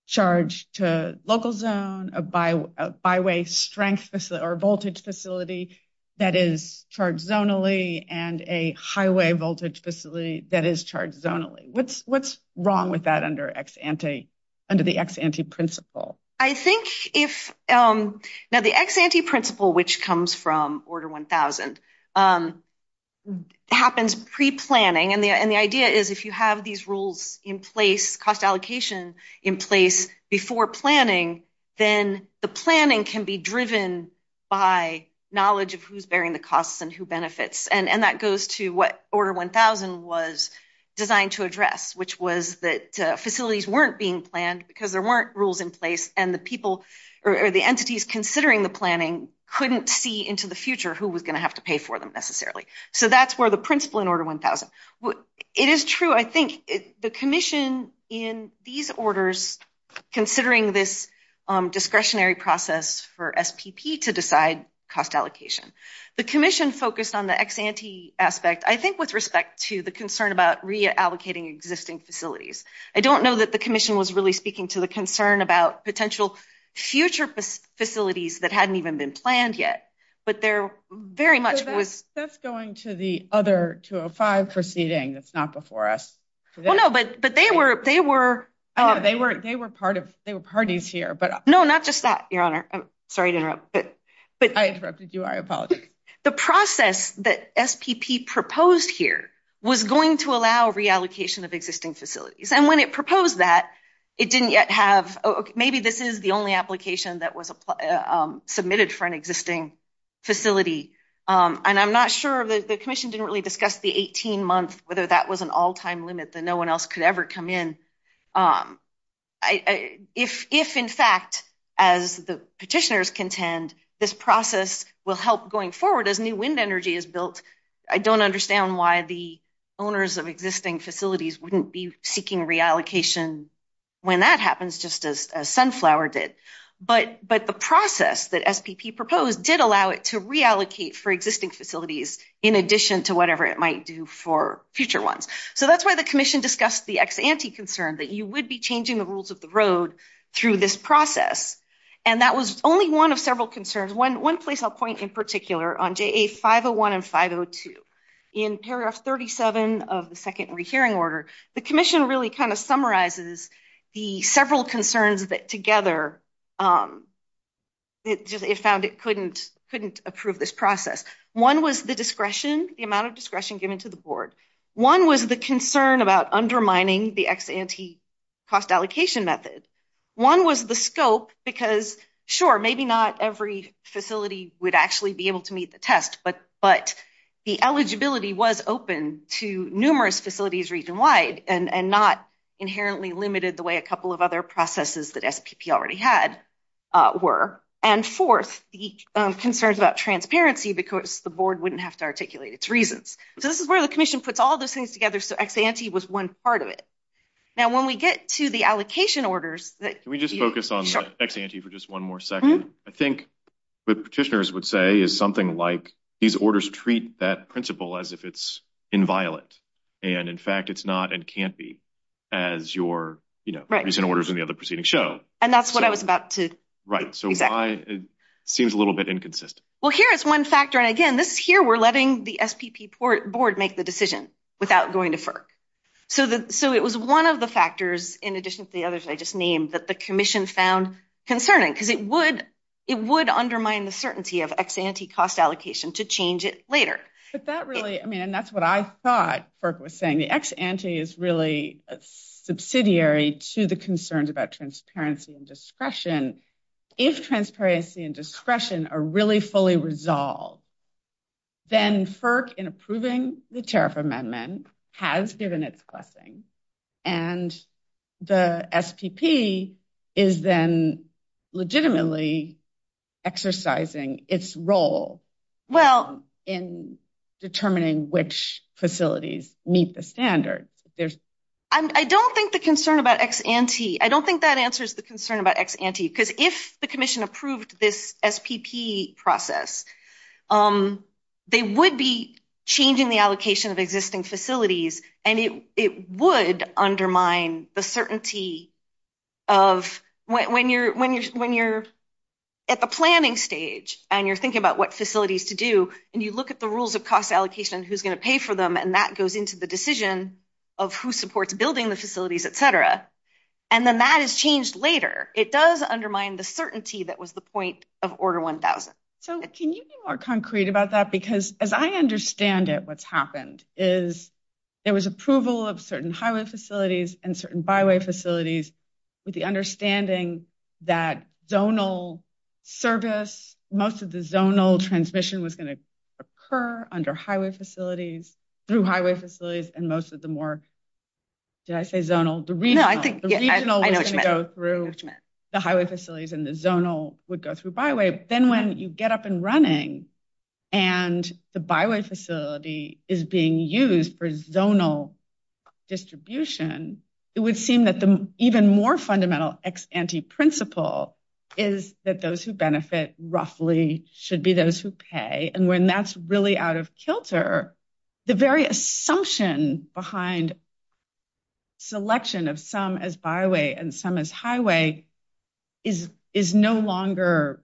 charged to local zone, a by-way strength or voltage facility that is charged zonally, and a highway voltage facility that is charged zonally. What is wrong with that under the ex-ante principle? The ex-ante principle, which comes from order 1000, happens pre-planning. The idea is if you have these rules in place, cost allocation in place before planning, then the planning can be driven by knowledge of who is bearing the costs and who benefits. That goes to what order 1000 was designed to address, which was that facilities were not being planned because there were not rules in place and the people or the entities considering the planning could not see into the future who was going to have to pay for them necessarily. That is where the principle in order 1000. It is true. I think the commission in these orders, considering this discretionary process for SPP to decide cost allocation, the commission focused on the ex-ante aspect, I think with respect to the concern about reallocating existing facilities. I don't know that the commission was really speaking to the concern about potential future facilities that had not even been planned yet, but there very much was... That is going to the other 205 proceeding that is not before us. No, but they were... They were parties here, but... No, not just that, Your Honor. I'm sorry to interrupt. I interrupted you. I apologize. The process that SPP proposed here was going to allow reallocation of existing facilities. When it proposed that, it didn't yet have... Maybe this is the only application that was submitted for an existing facility, and I'm not sure that the commission didn't really discuss the 18 months, whether that was an all-time limit that no one else could ever come in. If, in fact, as the petitioners contend, this process will help going forward as new wind energy is built, I don't understand why the owners of existing facilities wouldn't be seeking reallocation when that happens, just as Sunflower did. But the process that SPP proposed did allow it to reallocate for existing facilities in addition to whatever it might do for future ones. So that's why the commission discussed the ex-ante concern that you would be changing the rules of the road through this process. And that was only one of several concerns. One place I'll point in on JA501 and 502. In paragraph 37 of the second rehearing order, the commission really kind of summarizes the several concerns that together it found it couldn't approve this process. One was the discretion, the amount of discretion given to the board. One was the concern about undermining the ex-ante cost allocation method. One was the scope because, sure, maybe not every facility would actually be able to meet the test, but the eligibility was open to numerous facilities region-wide and not inherently limited the way a couple of other processes that SPP already had were. And fourth, the concerns about transparency because the board wouldn't have to articulate its reasons. So this is where the commission puts all those things together, so ex-ante was one part of it. Now, when we get to the allocation orders, we just focus on ex-ante for just one more second. I think what petitioners would say is something like these orders treat that principle as if it's inviolate. And in fact, it's not and can't be as your recent orders and the other proceedings show. And that's what I was about to... Right. So why it seems a little bit inconsistent. Well, here it's one factor. And again, this here we're letting the SPP board make the decision without going to FERC. So it was one of the factors, in addition to the others I just named, that the commission found concerning because it would undermine the certainty of ex-ante cost allocation to change it later. But that really... I mean, and that's what I thought FERC was saying. The ex-ante is really subsidiary to the concerns about transparency and discretion. If transparency and discretion are really fully resolved, then FERC in approving the tariff amendment has given its blessing. And the SPP is then legitimately exercising its role in determining which facilities meet the standard. I don't think the concern about ex-ante... I don't think that answers the concern about ex-ante because if the commission approved this SPP process, they would be changing the allocation of existing facilities, and it would undermine the certainty of... When you're at the planning stage and you're thinking about what facilities to do, and you look at the rules of cost allocation, who's going to pay for them, and that goes into the decision of who supports building the facilities, et cetera, and then that is changed later. It does undermine the certainty that was the point of Order 1000. So can you be more concrete about that? Because as I understand it, what's happened is there was approval of certain highway facilities and certain byway facilities with the understanding that zonal service, most of the zonal transmission was going to occur under highway facilities, through highway facilities, and most of the more, did I say zonal? The regional would go through the highway facilities and the zonal would go through byway. Then when you get up and running and the byway facility is being used for zonal distribution, it would seem that the even more fundamental ex-ante principle is that those who benefit roughly should be those who pay, and when that's really out of kilter, the very assumption behind selection of some as byway and some as highway is no longer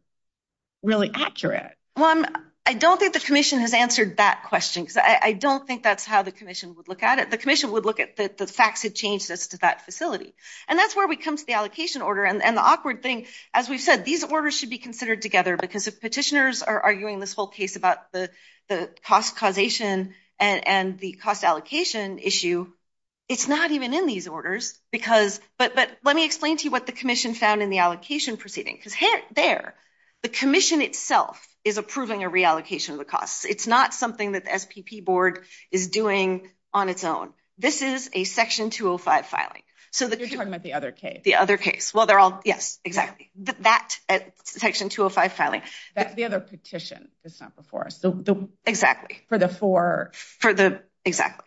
really accurate. Well, I don't think the Commission has answered that question, because I don't think that's how the Commission would look at it. The Commission would look at the facts that change this to that facility, and that's where we come to the allocation order, and the awkward thing, as we've said, these orders should be considered together, because if petitioners are arguing this case about the cost causation and the cost allocation issue, it's not even in these orders, because, but let me explain to you what the Commission found in the allocation proceeding, because hence there, the Commission itself is approving a reallocation of the costs. It's not something that the SPP board is doing on its own. This is a section 205 filing. You're talking about the other case. The other case. Well, they're all, yes, exactly, that section 205 filing. The other petition that's not before us. Exactly. For the four. For the, exactly,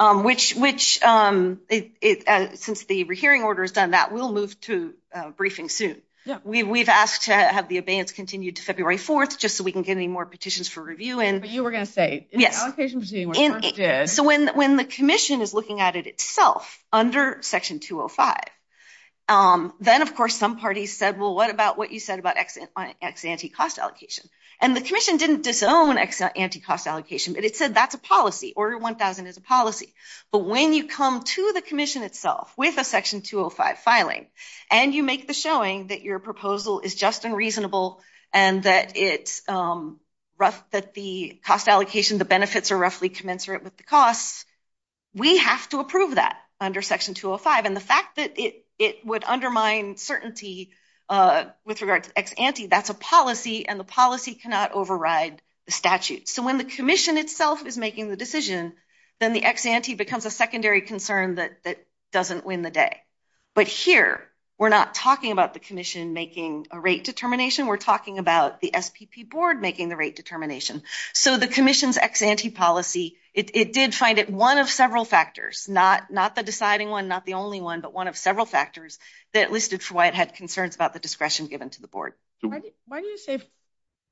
which, since the hearing order has done that, we'll move to a briefing soon. We've asked to have the abeyance continue to February 4th, just so we can get any more petitions for review in. But you were going to say, in the allocation proceeding, when you first did. So when the Commission is looking at it itself under section 205, then, of course, some parties said, well, what about what you said about ex-ante cost allocation? And the Commission didn't disown ex-ante cost allocation, but it said that's a policy. Order 1000 is a policy. But when you come to the Commission itself with a section 205 filing, and you make the showing that your proposal is just and reasonable, and that it's rough, that the cost allocation, the benefits are roughly commensurate with the costs, we have to approve that under section 205. And the fact that it would undermine certainty with regards to ex-ante, that's a policy, and the policy cannot override the statute. So when the Commission itself is making the decision, then the ex-ante becomes a secondary concern that doesn't win the day. But here, we're not talking about the Commission making a rate determination. We're talking about the SPP board making the rate determination. So the Commission's ex-ante policy, it did find it one of several factors, not the deciding one, not the only one, but one of several factors that listed for why it had concerns about the discretion given to the board. Why do you say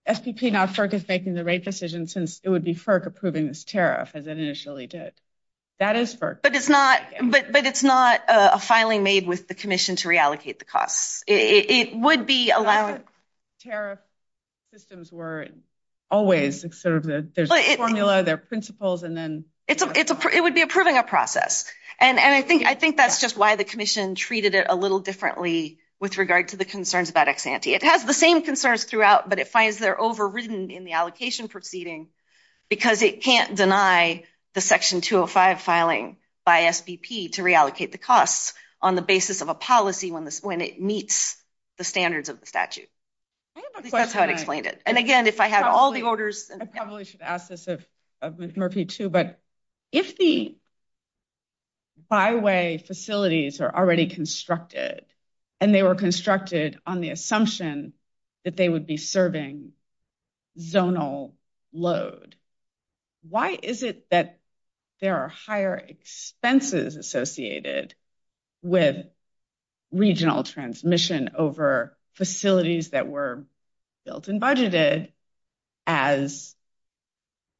SPP now FERC is making the rate decision since it would be FERC approving its tariff as it initially did? That is FERC. But it's not a filing made with the Commission to reallocate the costs. It would be allowing... Tariff systems were always sort of the formula, the principles, and then... It would be approving a process. And I think that's just why the Commission treated it a little differently with regard to the concerns about ex-ante. It has the same concerns throughout, but it finds they're overridden in the allocation proceeding because it can't deny the Section 205 filing by SPP to reallocate the costs on the basis of a policy when it meets the standards of the statute. I have a question. And again, if I have all the orders... I probably should ask this of Murphy too, but if the byway facilities are already constructed and they were constructed on the assumption that they would be serving zonal load, why is it that there are higher expenses associated with regional transmission over facilities that were built and budgeted as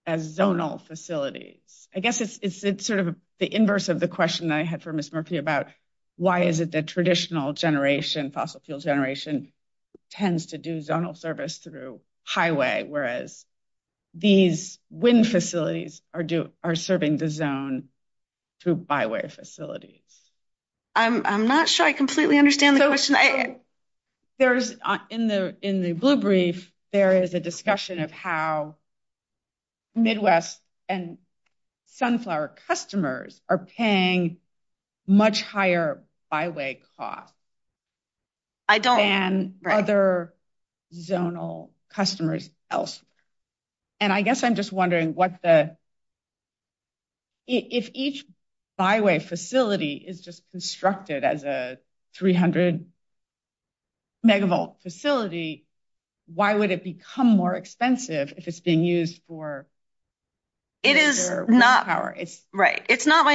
zonal facilities? I guess it's sort of the inverse of the question I had for Ms. Murphy about why is it that traditional generation, fossil fuel generation, tends to do zonal service through highway, whereas these wind facilities are serving the zone through byway facilities? I'm not sure I completely understand the question. In the blue brief, there is a discussion of how Midwest and Sunflower customers are paying much higher byway costs than other zonal customers. I guess I'm just wondering if each byway facility is just constructed as a 300-megavolt facility, why would it become more expensive if it's been used for... It is not my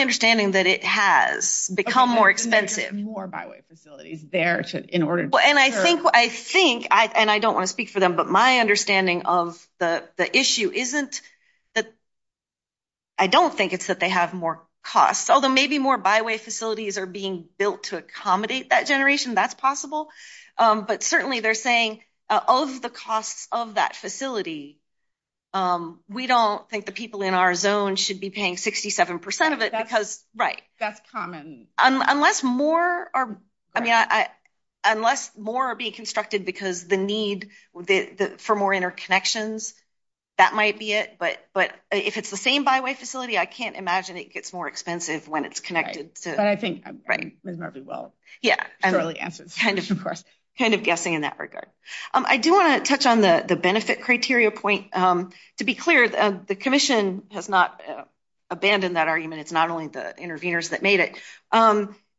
understanding that it has become more expensive. More byway facilities there in order to... I think, and I don't want to speak for them, but my understanding of the issue isn't that I don't think it's that they have more costs. Although maybe more byway facilities are being built to accommodate that generation, that's possible. But certainly they're saying of the costs of that facility, we don't think the people in our zone should be paying 67% of it because... Right. That's common. Unless more are being constructed because the need for more interconnections, that might be it. But if it's the same byway facility, I can't imagine it gets more expensive when it's connected to... I think I'm getting this very well. Yeah, I'm kind of guessing in that regard. I do want to touch on the benefit criteria point. To be clear, the commission has not abandoned that argument. It's not only the interveners that made it.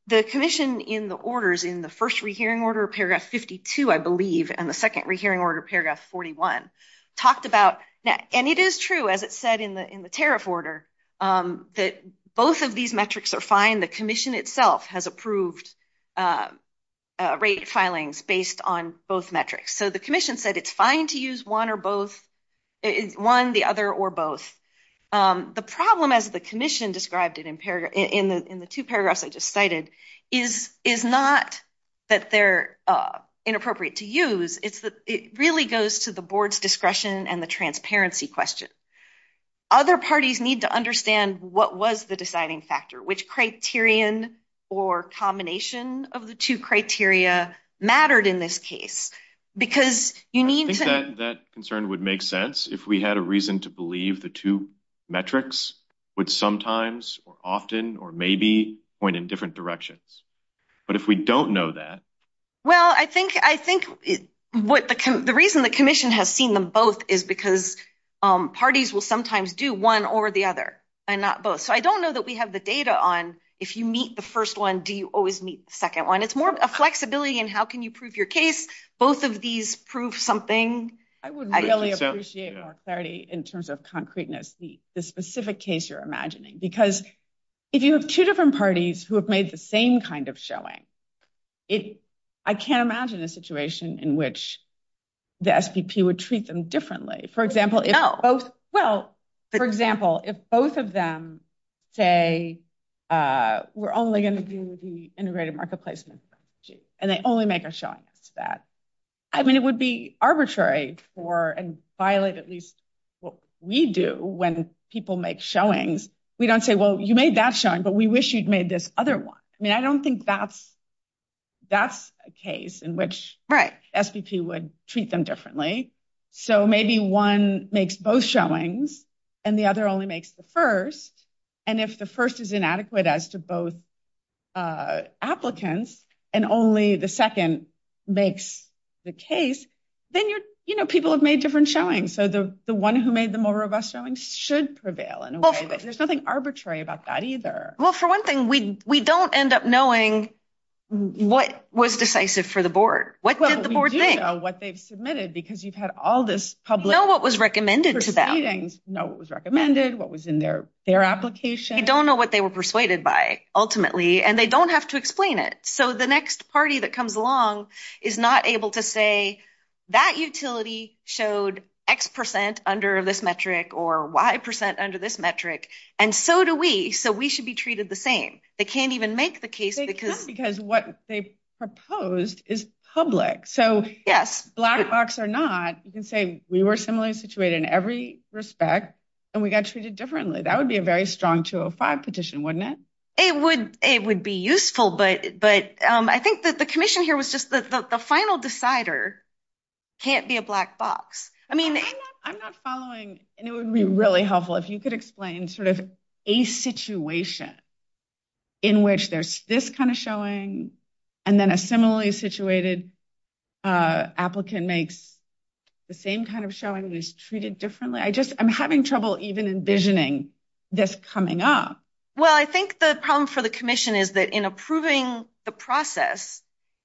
The commission in the orders in the first rehearing order, paragraph 52, I believe, and the second rehearing order, paragraph 41, talked about that. And it is true, as it said in the tariff order, that both of these metrics are fine. The commission itself has approved rate filings based on both metrics. So the commission said it's fine to use one, the other, or both. The problem, as the commission described it in the two paragraphs I just cited, is not that they're inappropriate to use, it really goes to the board's discretion and the transparency question. Other parties need to understand what was the deciding factor, which criterion or combination of the two criteria mattered in this case. Because you need to... That concern would make sense if we had a reason to believe the two metrics would sometimes or often or maybe point in different directions. But if we don't know that... Well, I think the reason the commission has seen them both is because parties will sometimes do one or the other and not both. So I don't know that we have the data on if you meet the first one, do you always meet the second one. It's more of a flexibility in how can you prove your case. Both of these prove something. I would really appreciate more clarity in terms of concreteness, the specific case you're imagining. Because if you have two different parties who have made the same kind of showing, I can't imagine a situation in which the SDP would treat them differently. For example, if both of them say, we're only going to do the integrated marketplace and they only make a showing of that. I mean, it would be arbitrary for and violate at least what we do when people make showings. We don't say, well, you made that showing, but we wish you'd made this other one. I mean, I don't think that's a case in which the SDP would treat them differently. So maybe one makes both showings and the other only makes the first. And if the first is inadequate as to both applicants, and only the second makes the case, then people have made different showings. So the one who made the more robust showings should prevail in a way. There's nothing arbitrary about that either. Well, for one thing, we don't end up knowing what was decisive for the board. What did the board think? What they've submitted, because you've had all this public- Know what was recommended to them. Know what was recommended, what was in their application. You don't know what they were persuaded by, ultimately, and they don't have to explain it. So the next party that comes along is not able to say, that utility showed X percent under this metric or Y percent under this metric, and so do we. So we should be treated the same. They can't even make the case because- Because what they proposed is public. So black box or not, you can say we were similarly situated in every respect, and we got treated differently. That would be a very strong 205 petition, wouldn't it? It would be useful, but I think that the commission here was just the final decider can't be a black box. I mean- I'm not following, and it would be really helpful if you could explain sort of a situation in which there's this kind of showing, and then a similarly situated applicant makes the same kind of showing, just treated differently. I just- I'm having trouble even envisioning this coming up. Well, I think the problem for the commission is that in approving the process,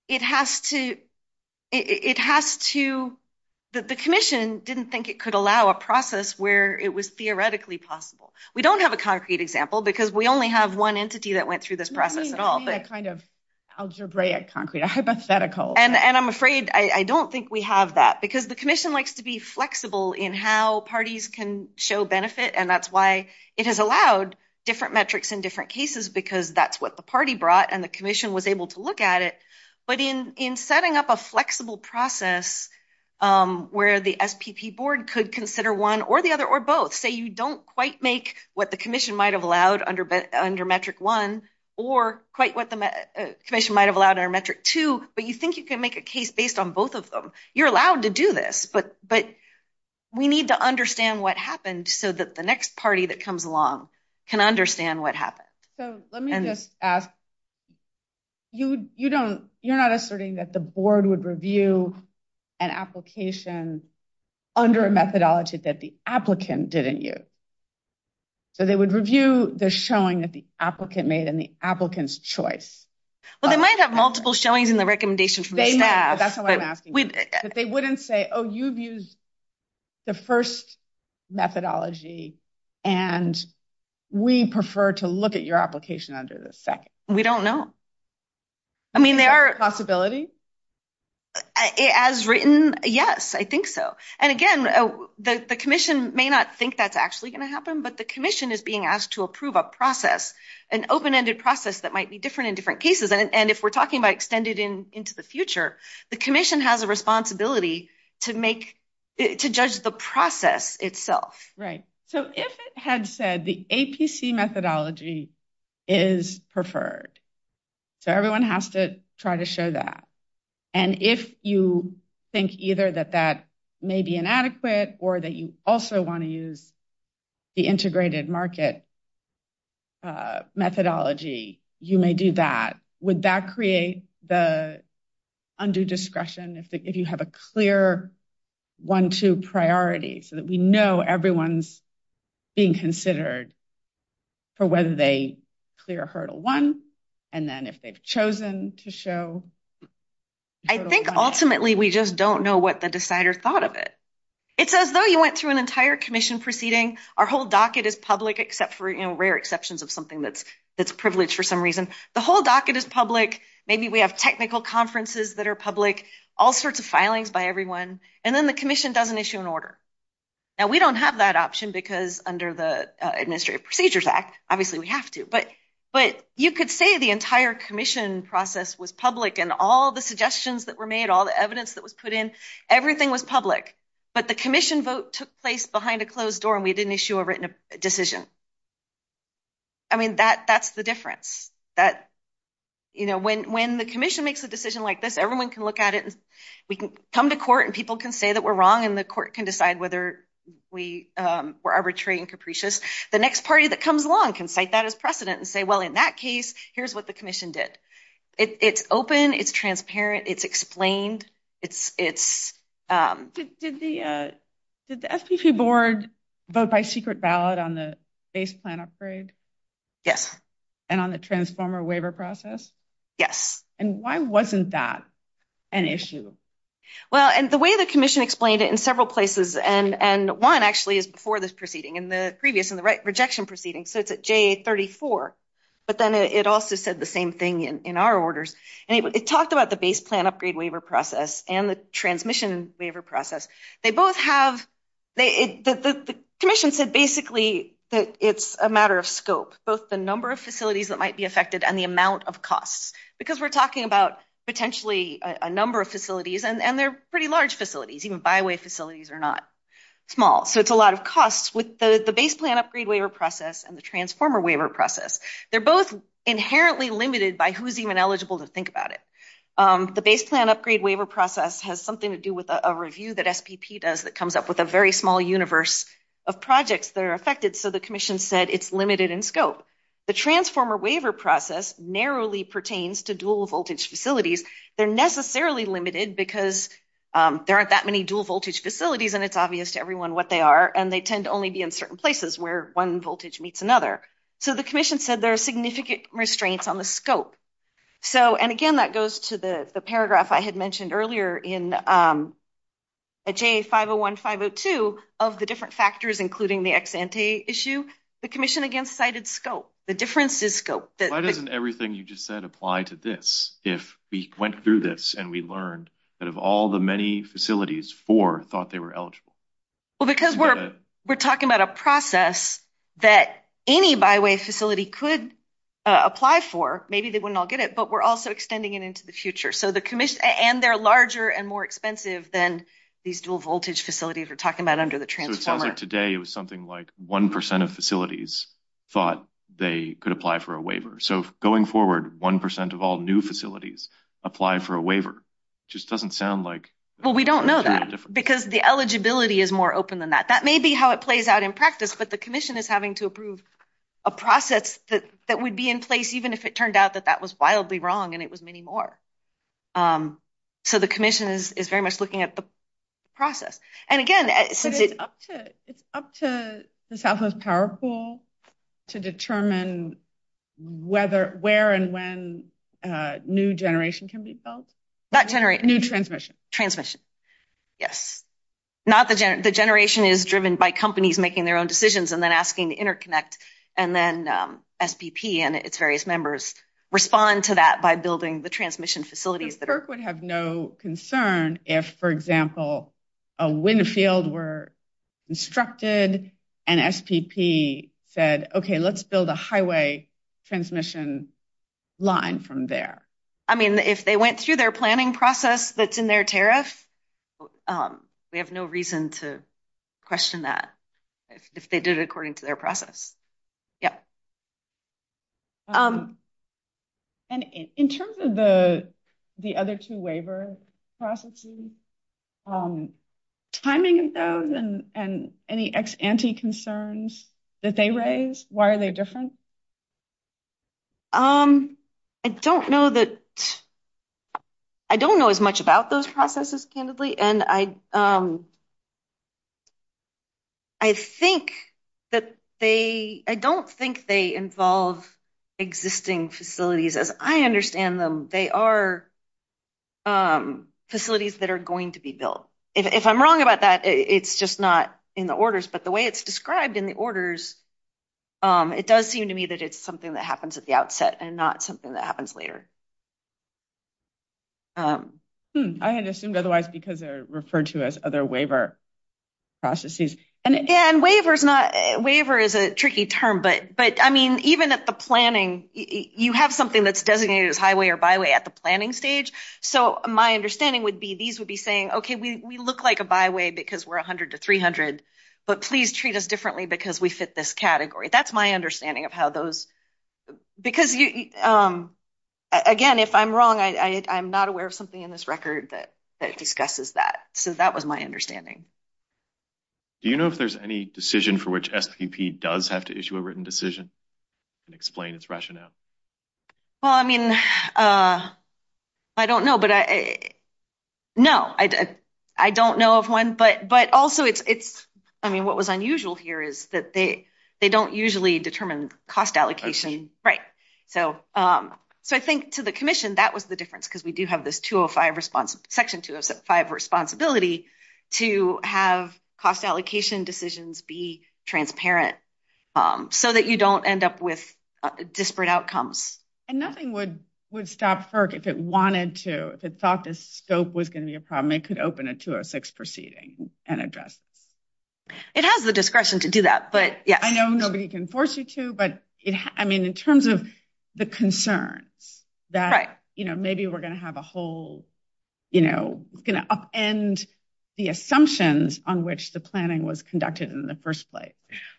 it has to- The commission didn't think it could allow a process where it was theoretically possible. We don't have a concrete example because we only have one entity that went through this process at all. Let me see that kind of algebraic, concrete hypothetical. And I'm afraid I don't think we have that because the commission likes to be flexible in how parties can show benefit, and that's why it has allowed different metrics in different cases because that's what the party brought, and the commission was able to look at it. But in setting up a flexible process where the SPP board could consider one or the other, or both. Say you don't quite make what the commission might have allowed under metric one, or quite what the commission might have allowed under metric two, but you think you can make a case based on both of them. You're allowed to do this, but we need to understand what happened so that the next party that comes along can understand what happened. So let me just ask, you're not asserting that the board would review an application under a methodology that the applicant didn't use, but they would review the showing that the applicant made and the applicant's choice. Well, they might have multiple showings in the recommendations. They have, but that's why I'm asking. But they wouldn't say, oh, you've used the first methodology, and we prefer to look at your application under the second. We don't know. I mean, there are... Is that a possibility? As written, yes, I think so. And again, the commission may not think that's actually going to happen, but the commission is being asked to approve a process, an open-ended process that might be different in different cases. And if we're talking about extended into the future, the commission has a responsibility to make...to judge the process itself. Right. So if it had said the APC methodology is preferred, so everyone has to try to show that. And if you think either that that may be inadequate or that you also want to use the integrated market methodology, you may do that. Would that create the undue discretion if you have a clear one-two priority so that we know everyone's being considered for whether they clear hurdle one, and then if they've chosen to show... I think, ultimately, we just don't know what the decider thought of it. It's as though you went through an entire commission proceeding. Our whole docket is public, except for rare exceptions of something that's privileged for some reason. The whole docket is public. Maybe we have technical conferences that are public, all sorts of filings by everyone. And then the commission does an issue and order. Now, we don't have that option because under the Administrative Procedures Act, obviously we have to. But you could say the entire commission process was public, and all the suggestions that were made, all the evidence that was put in, everything was public. But the commission vote took place behind a closed door, and we didn't issue a written decision. I mean, that's the difference. When the commission makes a decision like this, everyone can look at it, and we can come to court, and people can say that we're wrong, and the court can decide whether we were arbitrary and capricious. The next party that comes along can cite that as precedent and say, well, in that case, here's what the commission did. It's open. It's transparent. It's explained. Did the SEC board vote by secret ballot on the base plan upgrade? Yes. And on the transformer waiver process? Yes. And why wasn't that an issue? Well, the way the commission explained it in several places, and one actually is before this proceeding, in the previous, in the rejection proceeding, so it's at J34, but then it also said the same thing in our orders, and it talked about the base plan upgrade waiver process and the transmission waiver process. They both have, the commission said basically that it's a matter of scope, both the number of facilities that might be affected and the amount of costs, because we're talking about potentially a number of facilities, and they're pretty large facilities, even byway facilities are not small. So it's a lot of costs with the base plan upgrade waiver process and the transformer waiver process. They're both inherently limited by who's even eligible to think about it. The base plan upgrade waiver process has something to do with a review that SPP does that comes up with a very small universe of projects that are affected. So the commission said it's limited in scope. The transformer waiver process narrowly pertains to dual voltage facilities. They're necessarily limited because there aren't that many dual voltage facilities, and it's obvious to everyone what they are, and they tend to only be in certain places where one voltage meets another. So the commission said there are significant restraints on the scope. And again, that goes to the paragraph I had mentioned earlier in J501, 502 of the different factors, including the ex-ante issue. The commission again cited scope. The difference is scope. Why doesn't everything you just said apply to this? If we went through this and we learned that of all the many facilities, four thought they were eligible. Well, because we're talking about a process that any byway facility could apply for. Maybe they wouldn't all get it, but we're also extending it into the future. And they're larger and more expensive than these dual voltage facilities we're talking about under the transformer. So it sounds like today it was something like 1% of facilities thought they could apply for a waiver. So going forward, 1% of all new facilities apply for a waiver. Just doesn't sound like... Well, we don't know that. Because the eligibility is more open than that. That may be how it plays out in practice, but the commission is having to approve a process that would be in place, even if it turned out that that was wildly wrong and it was many more. So the commission is very much looking at the process. And again, it's up to the Southwest Power Pool to determine where and when new generation can be filled. Not generation. New transmission. Transmission. Yes. Not the generation. The generation is driven by companies making their own decisions and then asking InterConnect and then SPP and its various members respond to that by building the transmission facilities. But CERC would have no concern if, for example, a wind field were constructed and SPP said, okay, let's build a highway transmission line from there. I mean, if they went through their planning process that's in their tariff, we have no reason to question that if they did it according to their process. Yeah. And in terms of the other two waiver processes, timing of those and any anti-concerns that they raised, why are they different? I don't know that I don't know as much about those processes, candidly, and I think that they, I don't think they involve existing facilities as I understand them. They are facilities that are going to be built. If I'm wrong about that, it's just not in the orders, but the way it's described in the orders, it does seem to me that it's something that happens at the outset and not something that happens later. I had assumed otherwise because they're referred to as other waiver processes. And again, waiver is a tricky term, but I mean, even at the planning, you have something that's designated as highway or byway at the planning stage. So my understanding would be these would be saying, okay, we look like a byway because we're 100 to 300, but please treat us differently because we fit this category. That's my understanding of how those, because again, if I'm wrong, I'm not aware of something in this record that discusses that. So that was my understanding. Do you know if there's any decision for which FPP does have to issue a written decision and explain its rationale? Well, I mean, I don't know, but no, I don't know of one, but also it's, I mean, what was unusual here is that they don't usually determine cost allocation. So I think to the commission, that was the difference because we do have this section 205 responsibility to have cost allocation decisions be transparent so that you don't end up with disparate outcomes. And nothing would stop FERC if it wanted to, if it thought this scope was going to be a problem, it could open a 206 proceeding and address. It has the discretion to do that, but yeah. I know nobody can force you to, but I mean, in terms of the concern that, you know, maybe we're going to have a whole, you know, we're going to upend the assumptions on which the planning was conducted in the first place.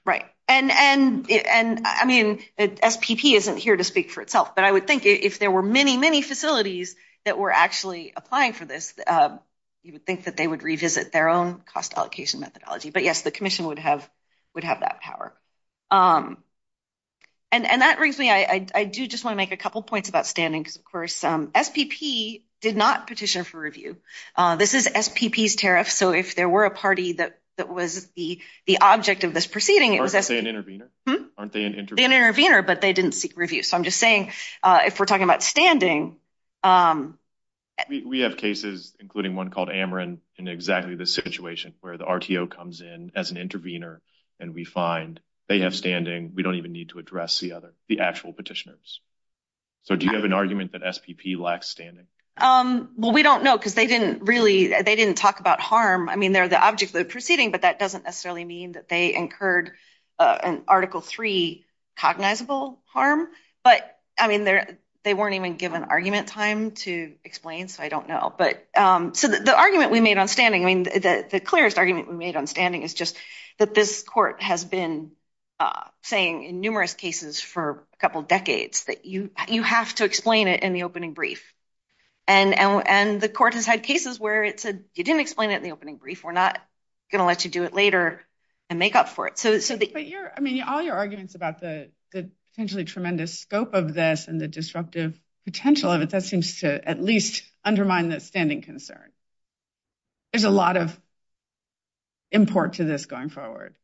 Right. And I mean, the FPP isn't here to speak for itself, but I would think if there were many, many facilities that were actually applying for this, you would think that they would revisit their own cost allocation methodology. But yes, the commission would have that power. And that brings me, I do just want to make a couple of points about standing, because of course, FPP did not petition for review. This is FPP's tariff. So, if there were a party that was the object of this proceeding. Aren't they an intervener? But they didn't seek review. So, I'm just saying, if we're talking about standing. We have cases, including one called Ameren, in exactly the situation where the RTO comes in as an intervener, and we find they have standing, we don't even need to address the other, the actual petitioners. So, do you have an argument that FPP lacks standing? Well, we don't know, because they didn't really, they didn't talk about harm. I mean, they're the object of the proceeding, but that doesn't necessarily mean that they incurred an Article III cognizable harm. But, I mean, they weren't even given argument time to explain, so I don't know. But, so the argument we made on standing, I mean, the clearest argument we made on standing is just that this court has been saying in numerous cases for a couple decades that you have to explain it in the opening brief. And the court has had cases where it said, you didn't explain it in the opening brief, we're not going to let you do it later and make up for it. So, the- But you're, I mean, all your arguments about the potentially tremendous scope of this and the disruptive potential of it, that seems to at least undermine the standing concern. There's a lot of import to this going forward.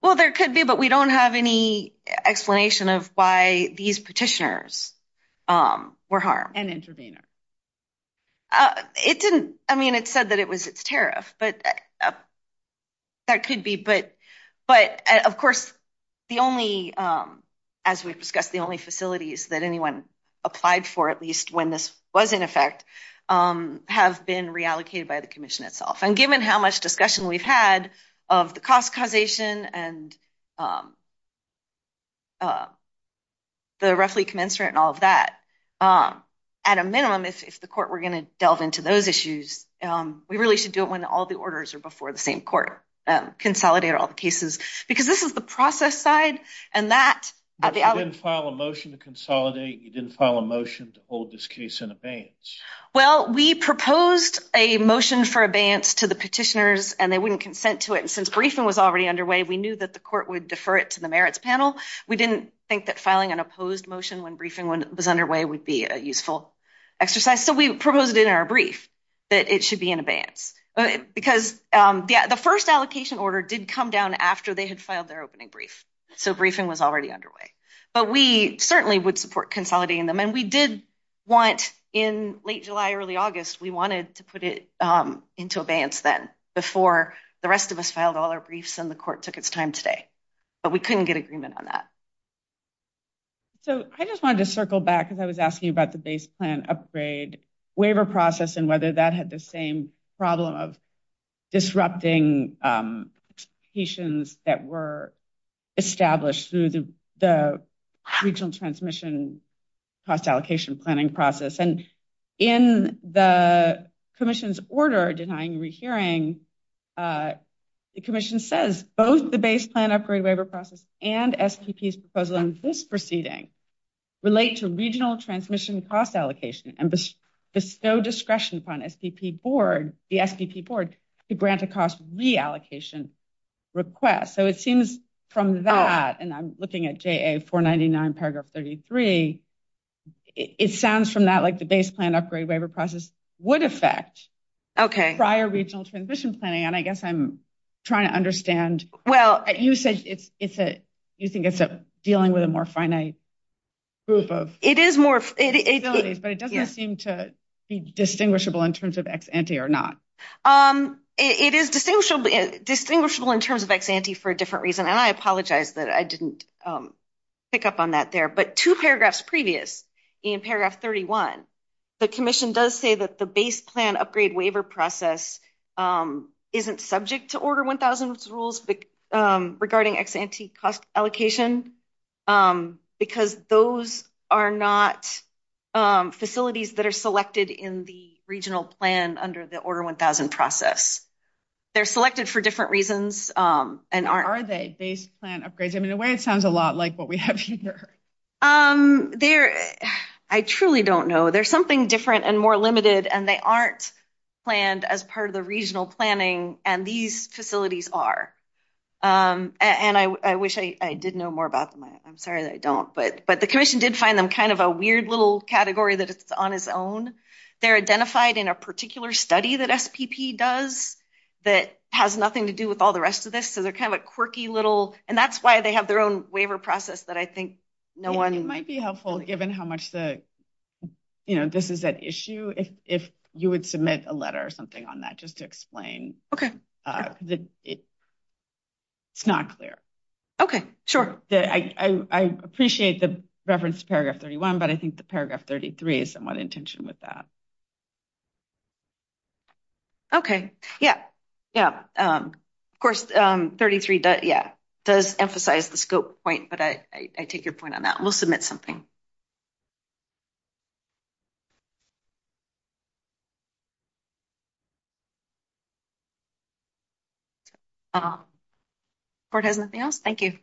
Well, there could be, but we don't have any explanation of why these petitioners were harmed. And interveners. It didn't, I mean, it said that it was its tariff, but that could be. But, of course, the only, as we've discussed, the only facilities that anyone applied for, at least when this was in effect, have been reallocated by the commission itself. And given how much discussion we've had of the cost causation and the roughly commensurate and all of that, at a minimum, if the court were going to delve into those issues, we really should do it when all the orders are before the same court, consolidate all the cases. Because this is the process side, and that- You didn't file a motion to consolidate, you didn't file a motion to hold this case in abeyance. Well, we proposed a motion for abeyance to the petitioners, and they wouldn't consent to it. And since briefing was already underway, we knew that the court would defer it to the merits panel. We didn't think that filing an opposed motion when briefing was underway would be a useful exercise. So we proposed in our brief that it should be in abeyance. Because, yeah, the first allocation order did come down after they had filed their opening brief. So briefing was already underway. But we certainly would support consolidating them. And we did want, in late July, early August, we wanted to put it into abeyance then, before the rest of us filed all our briefs and the court took its time today. But we couldn't get agreement on that. So I just wanted to circle back, because I was asking about the base plan upgrade waiver process, and whether that had the same problem of disrupting petitions that were established through the regional transmission cost allocation planning process. And in the commission's order denying rehearing, the commission says both the base plan upgrade waiver process and STP's proposal in this proceeding relate to regional transmission cost allocation. And there's no discretion upon the STP board to grant a cost reallocation request. So it seems from that, and I'm looking at JA 499 paragraph 33, it sounds from that like the base plan upgrade waiver process would affect prior regional transition planning. And I guess I'm trying to understand. Well, you said you think it's dealing with a more finite group of facilities, but it doesn't seem to be distinguishable in terms of ex-ante or not. It is distinguishable in terms of ex-ante for a different reason. And I apologize that I didn't pick up on that there. But two paragraphs previous, in paragraph 31, the commission does say that the base regarding ex-ante cost allocation, because those are not facilities that are selected in the regional plan under the order 1000 process. They're selected for different reasons. Are they base plan upgrades? I mean, the way it sounds a lot like what we have here. I truly don't know. There's something different and more limited and they aren't planned as part of the regional planning and these facilities are. And I wish I did know more about them. I'm sorry that I don't, but the commission did find them kind of a weird little category that it's on its own. They're identified in a particular study that FPP does that has nothing to do with all the rest of this. So they're kind of a quirky little and that's why they have their own waiver process that I think no one might be helpful, given how much the, you know, this is an issue. If you would submit a letter or something on that, just to explain. Okay, it's not clear. Okay, sure. I appreciate the reference to paragraph 31, but I think the paragraph 33 is somewhat in tension with that. Okay, yeah, yeah. Of course, 33 does emphasize the scope point, but I take your point on that. We'll submit something. Uh, thank you.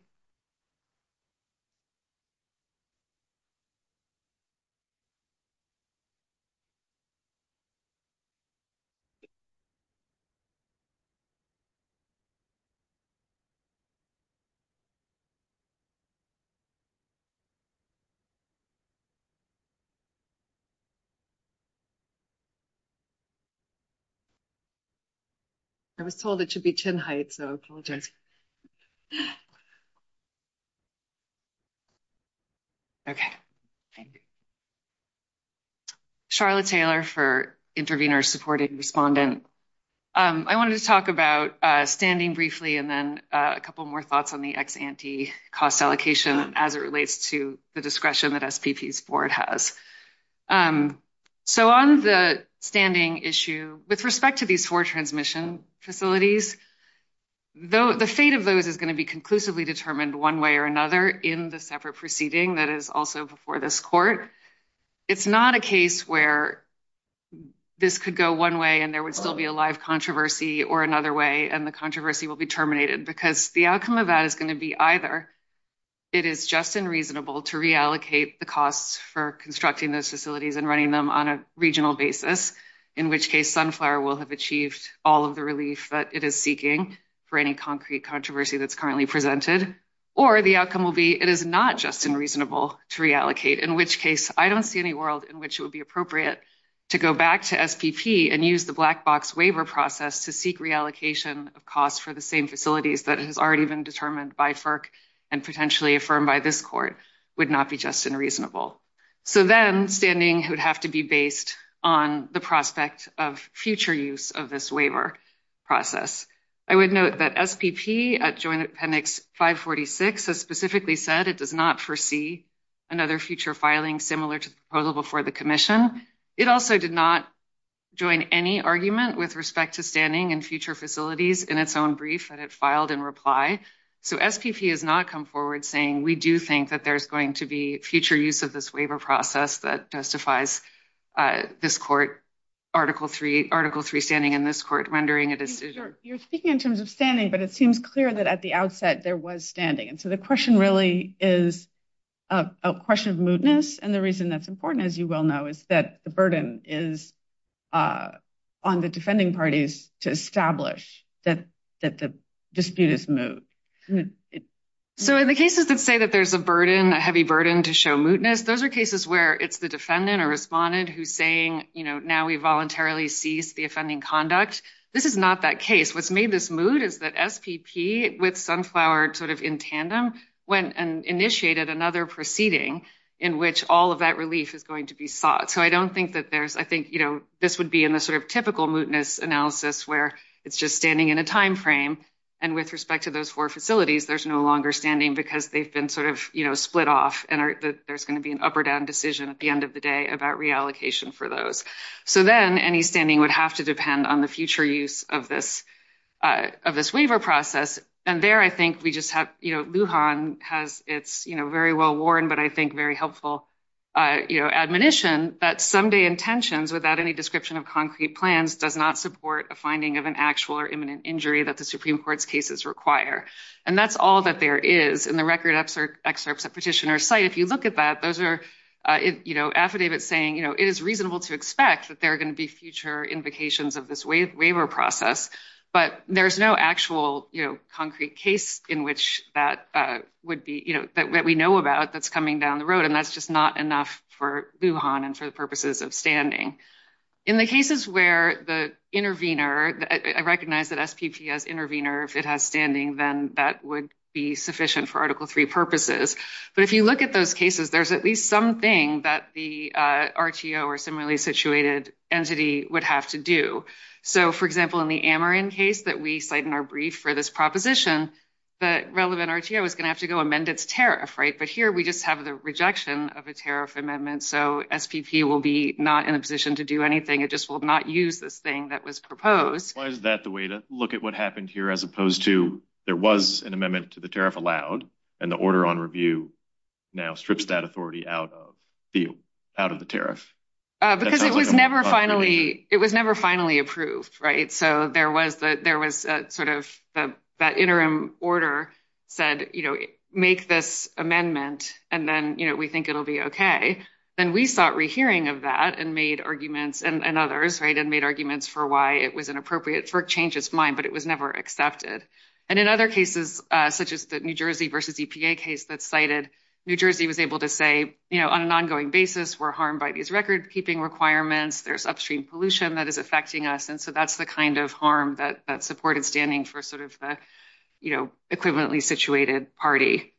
I was told it should be chin height, so it's a little different. Okay, thank you. Charlotte Taylor for Intervenor Supporting Respondent. Um, I wanted to talk about, uh, standing briefly and then, uh, a couple more thoughts on the ex-ante cost allocation as it relates to the discretion that STT's board has. Um, so on the standing issue, with respect to these four transmission facilities, the fate of those is going to be conclusively determined one way or another in the separate proceeding that is also before this court. It's not a case where this could go one way and there would still be a live controversy or another way and the controversy will be terminated because the outcome of that is going to be either it is just unreasonable to reallocate the costs for constructing those facilities and running them on a regional basis, in which case Sunflower will have achieved all of the relief that it is seeking for any concrete controversy that's currently presented, or the outcome will be it is not just unreasonable to reallocate, in which case I don't see any world in which it would be appropriate to go back to STT and use the black box waiver process to seek reallocation of costs for the same facilities that has already been determined by FERC and potentially affirmed by this court would not be just unreasonable. So then standing would have to be based on the prospect of future use of this waiver process. I would note that SPP at Joint Appendix 546 has specifically said it does not foresee another future filing similar to the proposal before the commission. It also did not join any argument with respect to standing in future facilities in its own brief that it filed in reply. So SPP has not come forward saying we do think that there's going to be future use of this waiver process that testifies this court Article III standing in this court rendering a decision. You're speaking in terms of standing, but it seems clear that at the outset there was standing. So the question really is a question of mootness, and the reason that's important, as you well know, is that the burden is on the defending parties to establish that the dispute is moot. So in the cases that say that there's a burden, a heavy burden to show mootness, those are cases where it's the defendant or respondent who's saying, you know, now we voluntarily cease the offending conduct. This is not that case. What's made this moot is that SPP with Sunflower sort of in tandem went and initiated another proceeding in which all of that relief is going to be sought. So I don't think that there's – I think, you know, this would be in the sort of typical mootness analysis where it's just standing in a timeframe, and with respect to those four facilities, there's no longer standing because they've been sort of, you know, split off, and there's going to be an up or down decision at the end of the day about reallocation for those. So then any standing would have to depend on the future use of this waiver process, and there I think we just have, you know, Lujan has its, you know, very well-worn but I think very helpful, you know, admonition that someday intentions without any description of concrete plans does not support a finding of an actual or imminent injury that the Supreme Court's cases require. And that's all that there is in the record excerpts at Petitioner's site. If you look at that, those are, you know, affidavits saying, you know, it is reasonable to expect that there are going to be future invocations of this waiver process, but there's no actual, you know, concrete case in which that would be, you know, that we know about that's coming down the road, and that's just not enough for Lujan and for the purposes of standing. In the cases where the intervenor, I recognize that SPP has intervenor, if it has standing, then that would be sufficient for Article III purposes. But if you look at those cases, there's at least something that the RTO or similarly situated entity would have to do. So, for example, in the Ameren case that we cite in our brief for this proposition, the relevant RTO is going to have to go amend its tariff, right? But here we just have the rejection of a tariff amendment, so SPP will be not in a position to do anything. It just will not use this thing that was proposed. Why is that the way to look at what happened here as opposed to there was an amendment to the tariff allowed and the order on review now strips that authority out of the tariff? Because it was never finally approved, right? So, there was sort of that interim order said, you know, make this amendment, and then, you know, we think it'll be okay. Then we sought rehearing of that and made arguments and others, right, and made arguments for why it was inappropriate for change its mind, but it was never accepted. And in other cases, such as the New Jersey versus EPA case that's cited, New Jersey was able to say, you know, on an ongoing basis, we're harmed by these recordkeeping requirements. There's upstream pollution that is affecting us, and so that's the kind of harm that supported standing for sort of the, you know, equivalently situated party.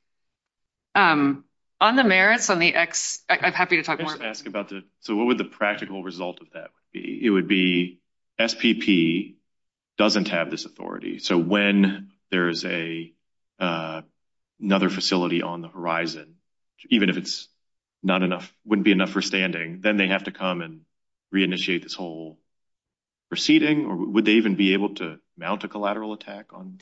On the merits, on the X, I'm happy to talk more. So, what would the practical result of that be? It would be SPP doesn't have this authority. So, when there is another facility on the horizon, even if it's not enough, wouldn't be enough for standing, then they have to come and reinitiate this whole proceeding, or would they even be able to mount a collateral attack on?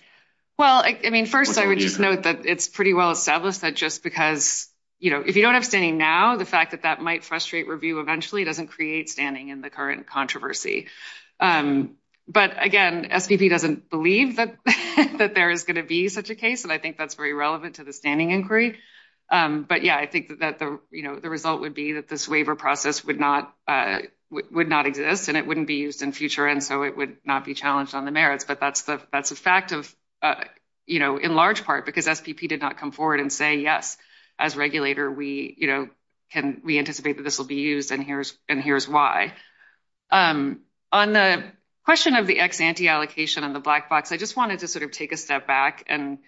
Well, I mean, first, I would note that it's pretty well established that just because, you know, if you don't have standing now, the fact that that might frustrate review eventually doesn't create standing in the current controversy. But again, SPP doesn't believe that there is going to be such a case, and I think that's very relevant to the standing inquiry. But yeah, I think that, you know, the result would be that this waiver process would not exist, and it wouldn't be used in future, and so it would not be challenged on the merits. But that's the fact of, you know, in large part, because SPP did not come forward and say, yes, as regulator, we, you know, we anticipate that this will be used, and here's why. On the question of the ex-ante allocation on the black box, I just wanted to sort of take a step back and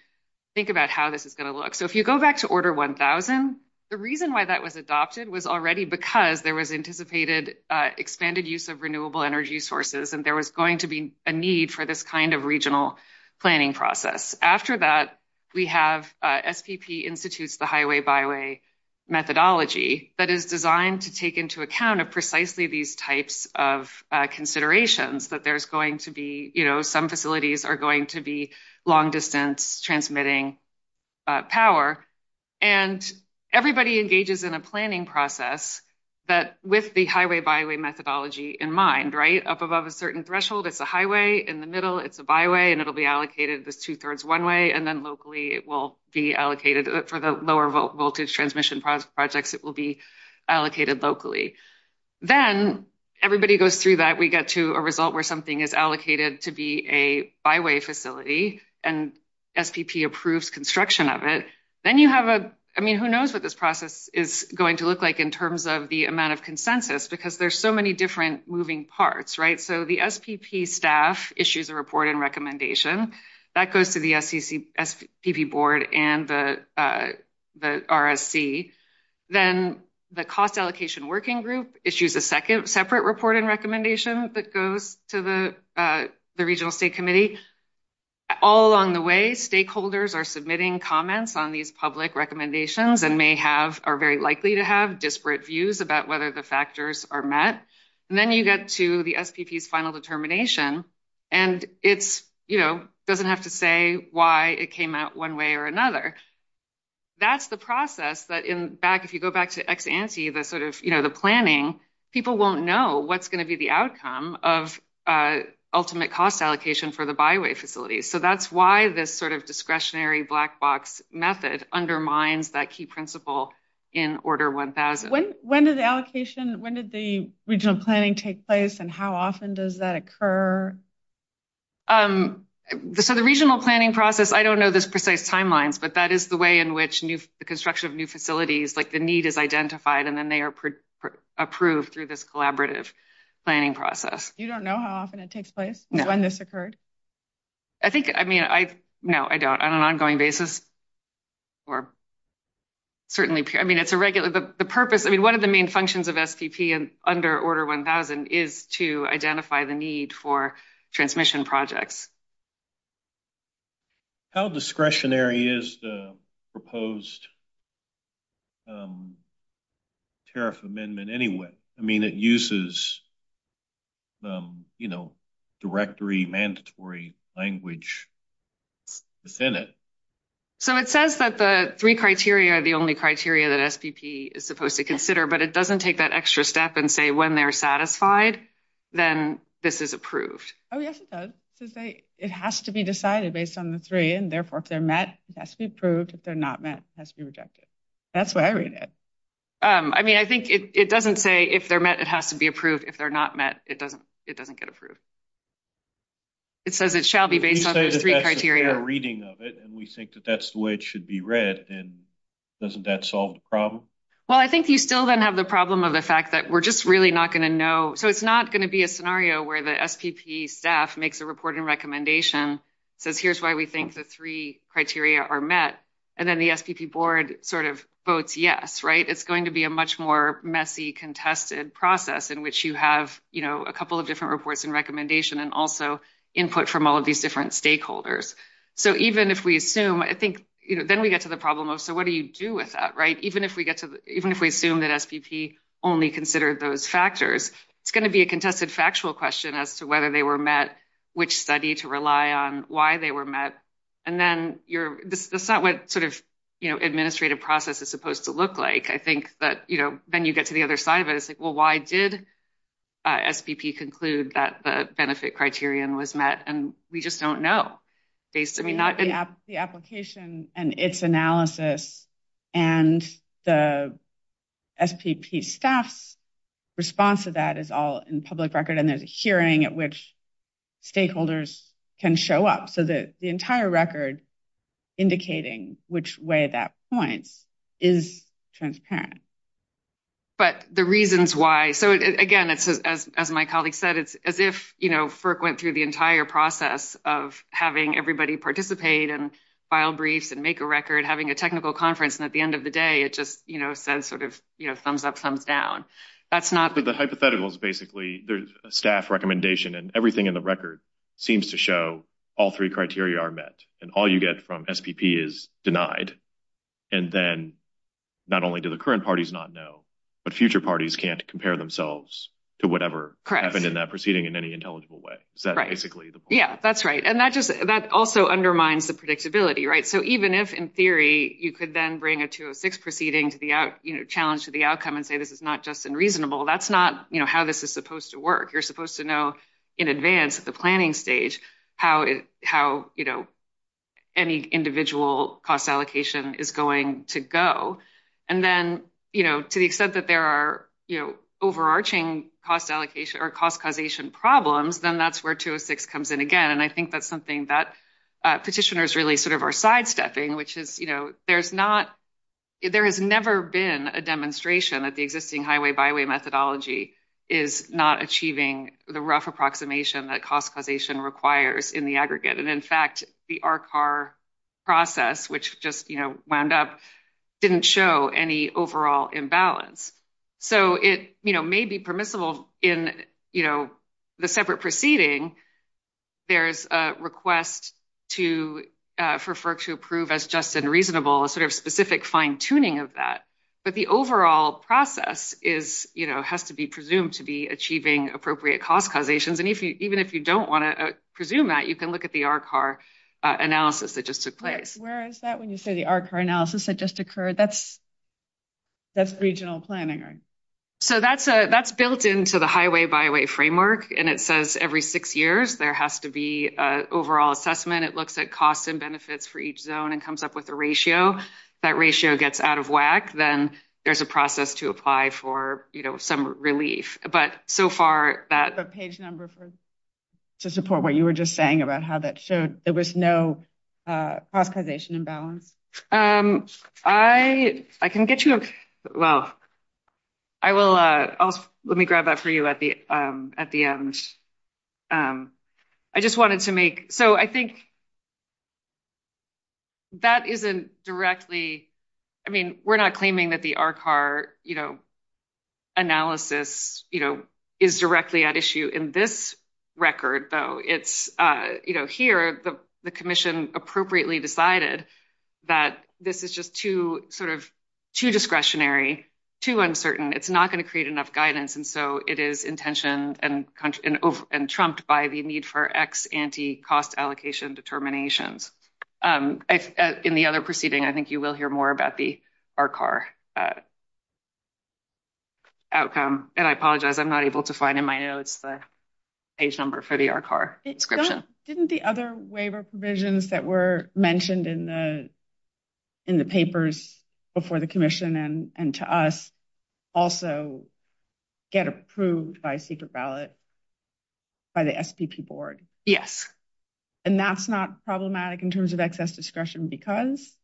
think about how this is going to look. So, if you go back to Order 1000, the reason why that was adopted was already because there was anticipated expanded use of renewable energy sources, and there was going to be a need for this kind of regional planning process. After that, we have SPP institutes the highway-byway methodology that is designed to take into account of precisely these types of considerations that there's going to be, you know, some facilities are going to be long-distance transmitting power. And everybody engages in a planning process that with the highway-byway methodology in mind, right, up above a certain threshold, it's a highway, in the middle, it's a byway, and it'll be allocated the two-thirds one way, and then locally, it will be allocated for the lower voltage transmission projects, it will be allocated locally. Then, everybody goes through that, we get to a result where something is allocated to be a byway facility, and SPP approves construction of it. Then you have a, I mean, who knows what this process is going to look like in terms of the amount of consensus, because there's so many different moving parts, right? So, the SPP staff issues a report and recommendation that goes to the SPP board and the RSC. Then, the cost allocation working group issues a separate report and recommendation that goes to the regional state committee. All along the way, stakeholders are submitting comments on these public recommendations and may have, are very likely to have disparate views about whether the factors are met. And then you get to the SPP's final determination, and it's, you know, doesn't have to say why it came out one way or another. That's the process that, in fact, if you go back to ex-ante, the sort of, you know, the planning, people won't know what's going to be the outcome of ultimate cost allocation for the byway facility. So, that's why this sort of discretionary black box method undermines that key principle in Order 1000. When did the allocation, when did the regional planning take place, and how often does that occur? So, the regional planning process, I don't know those precise timelines, but that is the way in which the construction of new facilities, like the need is identified, and then they are approved through this collaborative planning process. You don't know how often it takes place? No. When this occurred? I think, I mean, I, no, I don't, on an ongoing basis, or certainly, I mean, it's a regular, the purpose, I mean, one of the main functions of SPP under Order 1000 is to identify the need for transmission projects. How discretionary is the proposed tariff amendment anyway? I mean, it uses, you know, directory mandatory language within it. So, it says that the three criteria are the only criteria that SPP is supposed to consider, but it doesn't take that extra step and say when they're satisfied, then this is approved. Oh, yes, it does. It has to be decided based on the three, and therefore, if they're met, it has to be approved. If they're not met, it has to be rejected. That's what I read it. I mean, I think it doesn't say if they're met, it has to be approved. If they're not met, it doesn't, it doesn't get approved. It says it shall be based on the three criteria. We say that that's the fair reading of it, and we think that that's the way it should be read, and doesn't that solve the problem? Well, I think you still then have the problem of the fact that we're just really not going to know. So, it's not going to be a scenario where the SPP staff makes a reporting recommendation, says here's why we think the three criteria are met, and then the SPP board sort of votes yes, right? It's going to be a much more messy contested process in which you have, you know, a couple of different reports and recommendations and also input from all of these different stakeholders. So, even if we assume, I think, you know, then we get to the problem of so what do you do with that, right? Even if we assume that SPP only considered those factors, it's going to be a contested factual question as to whether they were met, which study to rely on, why they were met. And then that's not what sort of, you know, administrative process is supposed to look like. I think that, you know, then you get to the other side of it. It's like, well, why did SPP conclude that the benefit criterion was met? And we just don't know. The application and its analysis and the SPP staff's response to that is all in public record, and there's a hearing at which stakeholders can show up. So, the entire record indicating which way that points is transparent. But the reasons why, so, again, as my colleague said, it's as if, you know, FERC went through the entire process of having everybody participate and file briefs and make a record, having a technical conference. And at the end of the day, it just, you know, says sort of, you know, thumbs up, thumbs down. The hypothetical is basically there's a staff recommendation, and everything in the record seems to show all three criteria are met, and all you get from SPP is denied. And then not only do the current parties not know, but future parties can't compare themselves to whatever happened in that proceeding in any intelligible way. Yeah, that's right. And that also undermines the predictability, right? So, even if, in theory, you could then bring a 206 proceeding to the out, you know, challenge to the outcome and say this is not just unreasonable, that's not, you know, how this is supposed to work. You're supposed to know in advance at the planning stage how, you know, any individual cost allocation is going to go. And then, you know, to the extent that there are, you know, overarching cost allocation or cost causation problems, then that's where 206 comes in again. And I think that's something that petitioners really sort of are sidestepping, which is, you know, there's not – there has never been a demonstration that the existing highway-by-way methodology is not achieving the rough approximation that cost causation requires in the aggregate. And, in fact, the RCAR process, which just, you know, wound up, didn't show any overall imbalance. So, it, you know, may be permissible in, you know, the separate proceeding. There's a request to – for FERC to approve as just and reasonable, a sort of specific fine-tuning of that. But the overall process is, you know, has to be presumed to be achieving appropriate cost causations. And even if you don't want to presume that, you can look at the RCAR analysis that just took place. Where is that when you say the RCAR analysis that just occurred? That's regional planning, right? So, that's built into the highway-by-way framework. And it says every six years there has to be an overall assessment. It looks at cost and benefits for each zone and comes up with a ratio. If that ratio gets out of whack, then there's a process to apply for, you know, some relief. But, so far, that – The page number to support what you were just saying about how that showed there was no cost causation imbalance. I can get you – well, I will – let me grab that for you at the end. I just wanted to make – so, I think that isn't directly – I mean, we're not claiming that the RCAR, you know, analysis, you know, is directly at issue in this record, though. It's, you know, here the commission appropriately decided that this is just too sort of – too discretionary, too uncertain. It's not going to create enough guidance. And so, it is intentioned and trumped by the need for X anti-cost allocation determinations. In the other proceeding, I think you will hear more about the RCAR outcome. And I apologize, I'm not able to find in my notes the page number for the RCAR. Didn't the other waiver provisions that were mentioned in the papers before the commission and to us also get approved by secret ballot by the SPP board? Yes. And that's not problematic in terms of excess discretion because?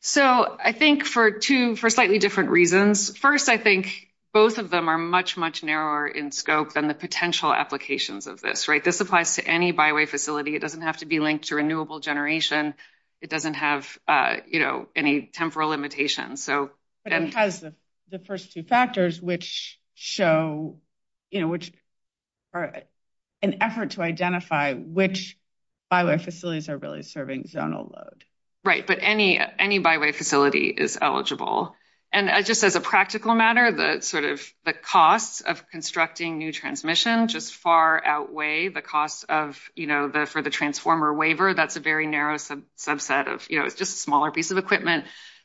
So, I think for two – for slightly different reasons. First, I think both of them are much, much narrower in scope than the potential applications of this, right? This applies to any byway facility. It doesn't have to be linked to renewable generation. It doesn't have, you know, any temporal limitations. But it has the first two factors which show, you know, an effort to identify which byway facilities are really serving zonal load. Right, but any byway facility is eligible. And just as a practical matter, the sort of – the cost of constructing new transmission just far outweigh the cost of, you know, for the transformer waiver. That's a very narrow subset of, you know, just smaller piece of equipment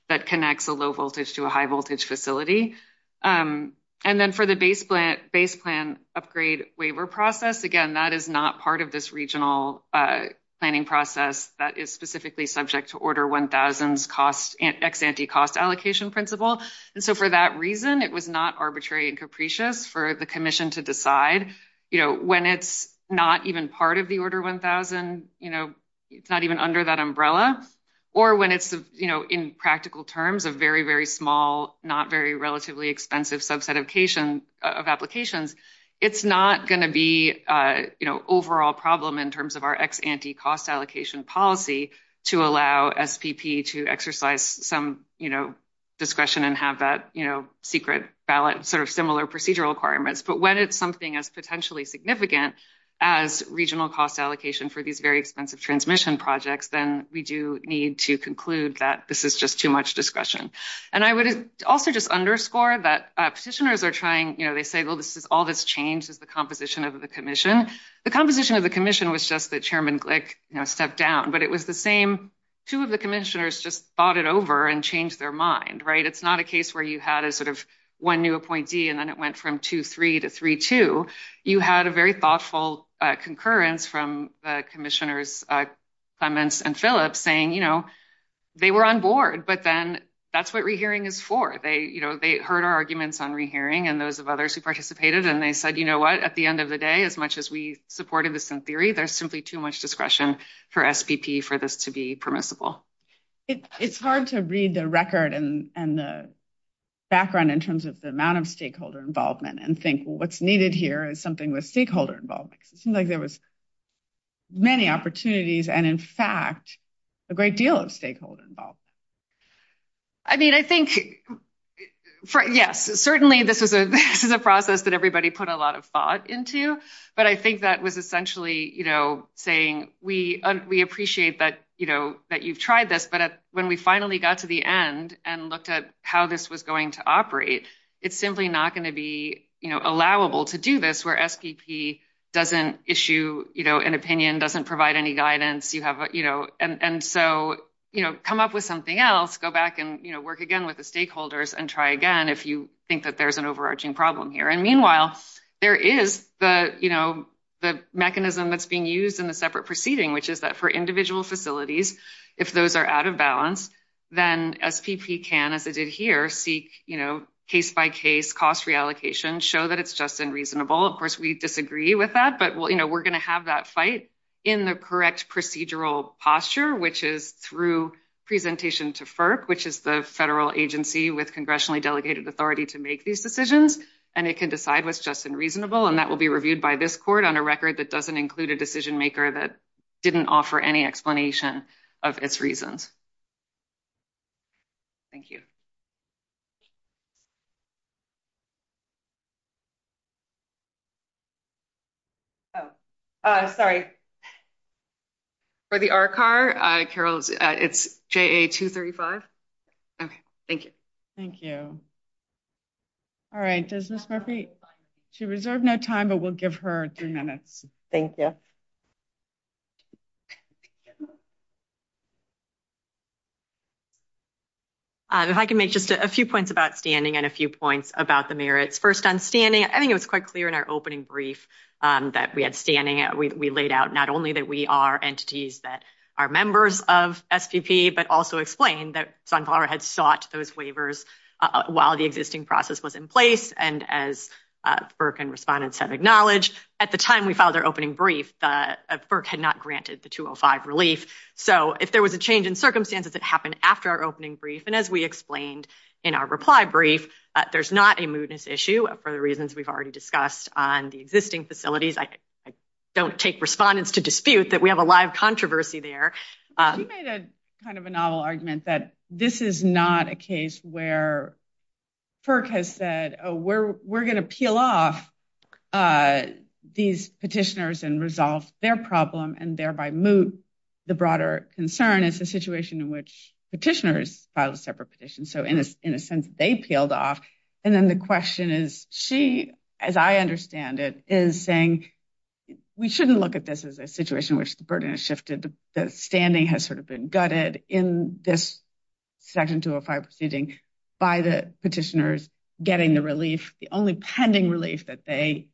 that connects a low voltage to a high voltage facility. And then for the base plan upgrade waiver process, again, that is not part of this regional planning process that is specifically subject to Order 1000's cost – ex-ante cost allocation principle. And so, for that reason, it was not arbitrary and capricious for the commission to decide, you know, when it's not even part of the Order 1000, you know, it's not even under that umbrella. Or when it's, you know, in practical terms, a very, very small, not very relatively expensive subset of applications, it's not going to be, you know, overall problem in terms of our ex-ante cost allocation policy to allow SPP to exercise some, you know, discretion and have that, you know, secret ballot sort of similar procedural requirements. But when it's something as potentially significant as regional cost allocation for these very expensive transmission projects, then we do need to conclude that this is just too much discretion. And I would also just underscore that petitioners are trying – you know, they say, well, this is – all this change is the composition of the commission. The composition of the commission was just that Chairman Glick, you know, stepped down. But it was the same – two of the commissioners just fought it over and changed their mind, right? It's not a case where you had a sort of one new appointee and then it went from 2-3 to 3-2. You had a very thoughtful concurrence from the commissioners, Simons and Phillips, saying, you know, they were on board, but then that's what rehearing is for. They, you know, they heard our arguments on rehearing and those of others who participated, and they said, you know what, at the end of the day, as much as we supported this in theory, there's simply too much discretion for SPP for this to be permissible. It's hard to read the record and the background in terms of the amount of stakeholder involvement and think, well, what's needed here is something with stakeholder involvement. It seems like there was many opportunities and, in fact, a great deal of stakeholder involvement. I mean, I think – yes, certainly this is a process that everybody put a lot of thought into, but I think that was essentially, you know, saying we appreciate that, you know, that you've tried this, but when we finally got to the end and looked at how this was going to operate, it's simply not going to be, you know, allowable to do this where SPP doesn't issue, you know, an opinion, doesn't provide any guidance. You have, you know – and so, you know, come up with something else, go back and, you know, work again with the stakeholders and try again if you think that there's an overarching problem here. And meanwhile, there is the, you know, the mechanism that's being used in the separate proceeding, which is that for individual facilities, if those are out of balance, then SPP can, as it did here, seek, you know, case-by-case cost reallocation, show that it's just unreasonable. And we all, of course, we disagree with that, but, you know, we're going to have that fight in the correct procedural posture, which is through presentation to FERC, which is the federal agency with congressionally delegated authority to make these decisions. And it can decide what's just and reasonable, and that will be reviewed by this court on a record that doesn't include a decision-maker that didn't offer any explanation of its reasons. Thank you. Oh. Sorry. For the RCAR, Carol, it's JA-235. Okay. Thank you. Thank you. All right. Does Ms. Murphy – she reserved no time, but we'll give her three minutes. Thank you. If I can make just a few points about standing and a few points about the merits. First, on standing, I think it was quite clear in our opening brief that we had standing. We laid out not only that we are entities that are members of SPP, but also explained that Sunflower had sought those waivers while the existing process was in place. And as FERC and respondents have acknowledged, at the time we filed our opening brief, FERC had not granted the 205 relief. So if there was a change in circumstances that happened after our opening brief, and as we explained in our reply brief, there's not a mootness issue for the reasons we've already discussed on the existing facilities. I don't take respondents to dispute that we have a live controversy there. You made kind of a novel argument that this is not a case where FERC has said, oh, we're going to peel off these petitioners and resolve their problem and thereby moot the broader concern. It's a situation in which petitioners filed separate petitions. So in a sense, they peeled off. And then the question is, she, as I understand it, is saying we shouldn't look at this as a situation in which the burden has shifted. The standing has sort of been gutted in this Section 205 proceeding by the petitioners getting the relief, the only pending relief that they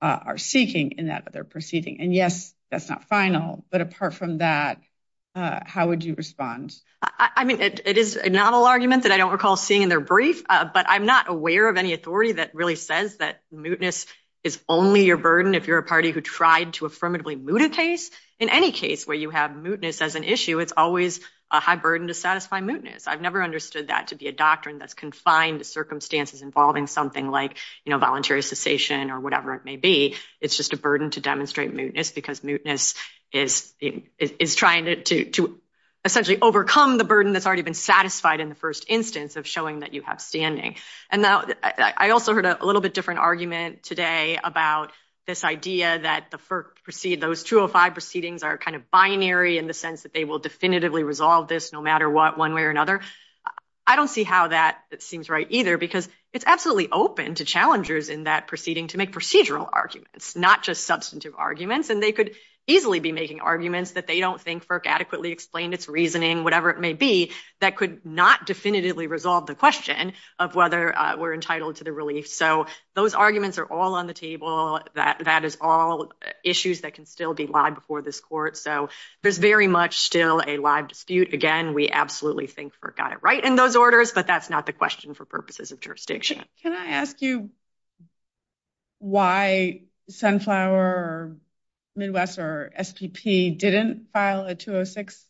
are seeking in that other proceeding. And yes, that's not final. But apart from that, how would you respond? I mean, it is a novel argument that I don't recall seeing in their brief, but I'm not aware of any authority that really says that mootness is only a burden if you're a party who tried to affirmatively moot a case. In any case where you have mootness as an issue, it's always a high burden to satisfy mootness. I've never understood that to be a doctrine that's confined to circumstances involving something like voluntary cessation or whatever it may be. It's just a burden to demonstrate mootness because mootness is trying to essentially overcome the burden that's already been satisfied in the first instance of showing that you have standing. And I also heard a little bit different argument today about this idea that those 205 proceedings are kind of binary in the sense that they will definitively resolve this no matter what, one way or another. I don't see how that seems right either because it's absolutely open to challengers in that proceeding to make procedural arguments, not just substantive arguments. And they could easily be making arguments that they don't think FERC adequately explained its reasoning, whatever it may be, that could not definitively resolve the question of whether we're entitled to the release. So those arguments are all on the table. That is all issues that can still be lied before this court. So there's very much still a live dispute. Again, we absolutely think FERC got it right in those orders, but that's not the question for purposes of jurisdiction. Can I ask you why Sunflower or Midwest or STP didn't file a 206?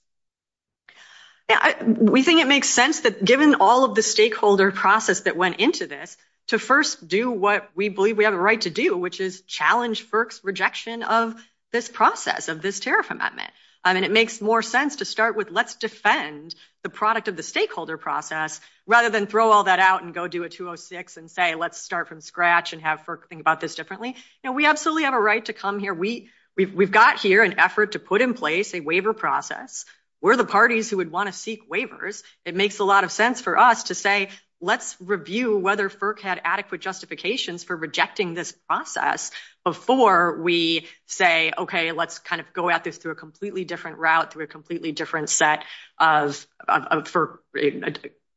We think it makes sense that given all of the stakeholder process that went into this, to first do what we believe we have a right to do, which is challenge FERC's rejection of this process, of this tariff amendment. And it makes more sense to start with, let's defend the product of the stakeholder process rather than throw all that out and go do a 206 and say, let's start from scratch and have FERC think about this differently. We absolutely have a right to come here. We've got here an effort to put in place a waiver process. We're the parties who would want to seek waivers. It makes a lot of sense for us to say, let's review whether FERC had adequate justifications for rejecting this process before we say, okay, let's kind of go at this through a completely different route, through a completely different set of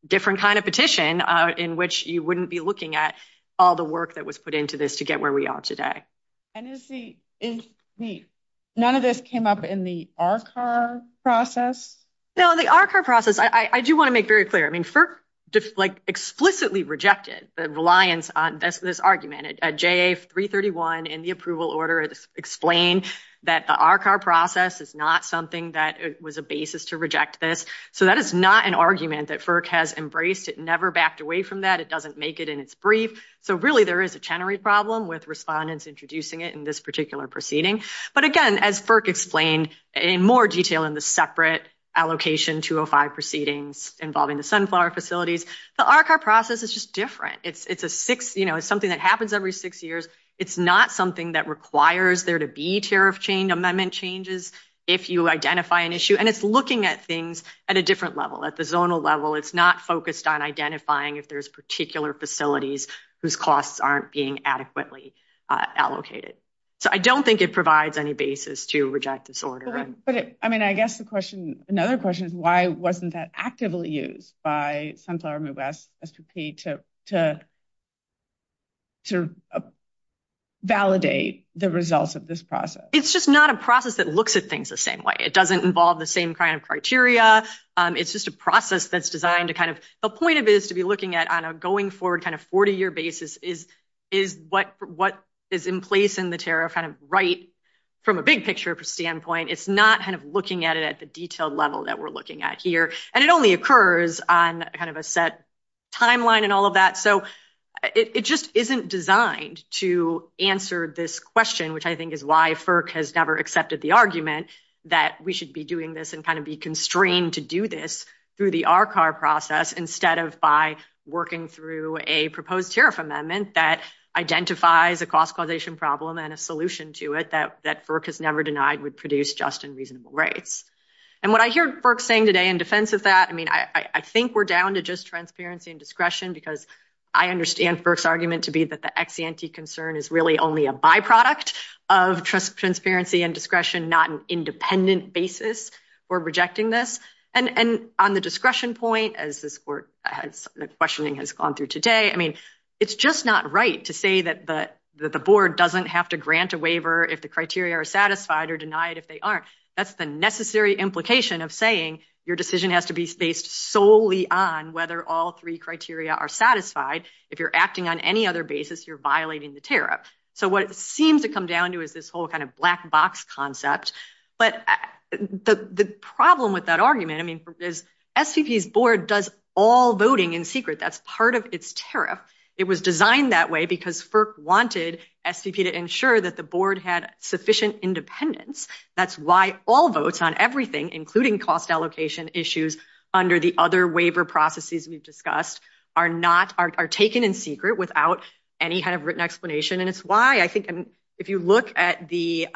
different kind of petition in which you wouldn't be looking at all the work that was put into this to get where we are today. None of this came up in the RCAHR process? No, the RCAHR process, I do want to make very clear. I mean, FERC just like explicitly rejected the reliance on this argument. JA331 in the approval order explained that the RCAHR process is not something that was a basis to reject this. So that is not an argument that FERC has embraced. It never backed away from that. It doesn't make it in its brief. So really there is a tenory problem with respondents introducing it in this particular proceeding. But again, as FERC explained in more detail in the separate allocation 205 proceedings involving the Sunflower facilities, the RCAHR process is just different. It's something that happens every six years. It's not something that requires there to be tariff amendment changes if you identify an issue. And it's looking at things at a different level, at the zonal level. It's not focused on identifying if there's particular facilities whose costs aren't being adequately allocated. So I don't think it provides any basis to reject this order. But I mean, I guess another question is why wasn't that actively used by Sunflower Midwest STP to validate the results of this process? It's just not a process that looks at things the same way. It doesn't involve the same kind of criteria. It's just a process that's designed to kind of – the point of it is to be looking at on a going forward kind of 40-year basis is what is in place in the tariff kind of right from a big picture standpoint. It's not kind of looking at it at the detailed level that we're looking at here. And it only occurs on kind of a set timeline and all of that. So it just isn't designed to answer this question, which I think is why FERC has never accepted the argument that we should be doing this and kind of be constrained to do this through the RCAR process instead of by working through a proposed tariff amendment that identifies a cost causation problem and a solution to it that FERC has never denied would produce just and reasonable rates. And what I hear FERC saying today in defense of that, I mean, I think we're down to just transparency and discretion because I understand FERC's argument to be that the ex-ante concern is really only a byproduct of transparency and discretion, not an independent basis for rejecting this. And on the discretion point, as the questioning has gone through today, I mean, it's just not right to say that the board doesn't have to grant a waiver if the criteria are satisfied or denied if they aren't. That's the necessary implication of saying your decision has to be based solely on whether all three criteria are satisfied. If you're acting on any other basis, you're violating the tariff. So what it seems to come down to is this whole kind of black box concept. But the problem with that argument, I mean, is SEP's board does all voting in secret. That's part of its tariff. It was designed that way because FERC wanted SEP to ensure that the board had sufficient independence. That's why all votes on everything, including cost allocation issues under the other waiver processes we've discussed, are taken in secret without any kind of written explanation. And it's why I think if you look at the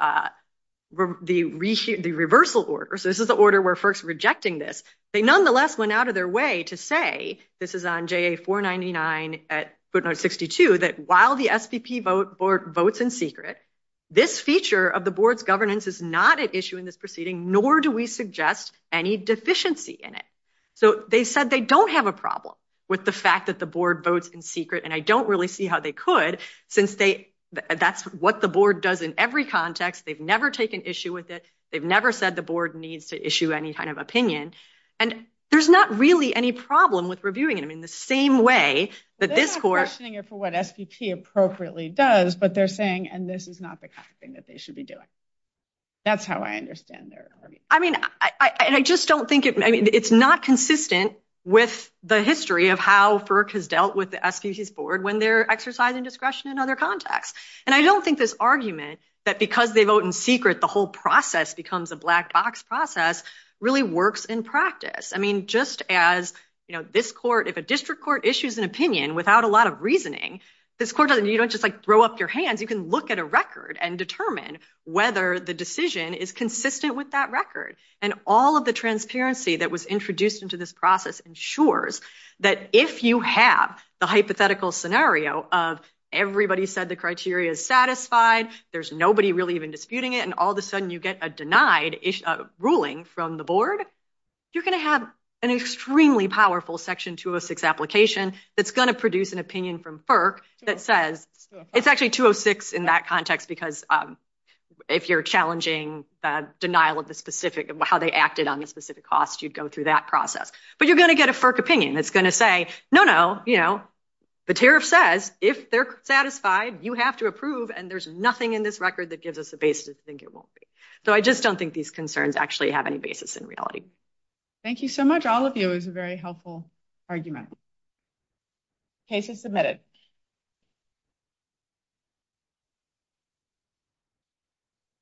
reversal order, so this is the order where FERC's rejecting this, they nonetheless went out of their way to say, this is on JA-499 at footnote 62, that while the SEP board votes in secret, this feature of the board's governance is not an issue in this proceeding, nor do we suggest any deficiency in it. So they said they don't have a problem with the fact that the board votes in secret. And I don't really see how they could, since that's what the board does in every context. They've never taken issue with it. They've never said the board needs to issue any kind of opinion. And there's not really any problem with reviewing it in the same way that this court— They're not questioning it for what SEP appropriately does, but they're saying, and this is not the kind of thing that they should be doing. That's how I understand their argument. I mean, I just don't think—I mean, it's not consistent with the history of how FERC has dealt with the SPC's board when they're exercising discretion in other contexts. And I don't think this argument that because they vote in secret, the whole process becomes a black box process really works in practice. I mean, just as this court—if a district court issues an opinion without a lot of reasoning, this court doesn't—you don't just throw up your hands. You can look at a record and determine whether the decision is consistent with that record. And all of the transparency that was introduced into this process ensures that if you have the hypothetical scenario of everybody said the criteria is satisfied, there's nobody really even disputing it, and all of a sudden you get a denied ruling from the board, you're going to have an extremely powerful Section 206 application that's going to produce an opinion from FERC that says— It's actually 206 in that context because if you're challenging denial of the specific—how they acted on the specific costs, you'd go through that process. But you're going to get a FERC opinion that's going to say, no, no, you know, the tariff says if they're satisfied, you have to approve, and there's nothing in this record that gives us a basis to think it won't be. So I just don't think these concerns actually have any basis in reality. Thank you so much. All of you. It was a very helpful argument. Cases submitted.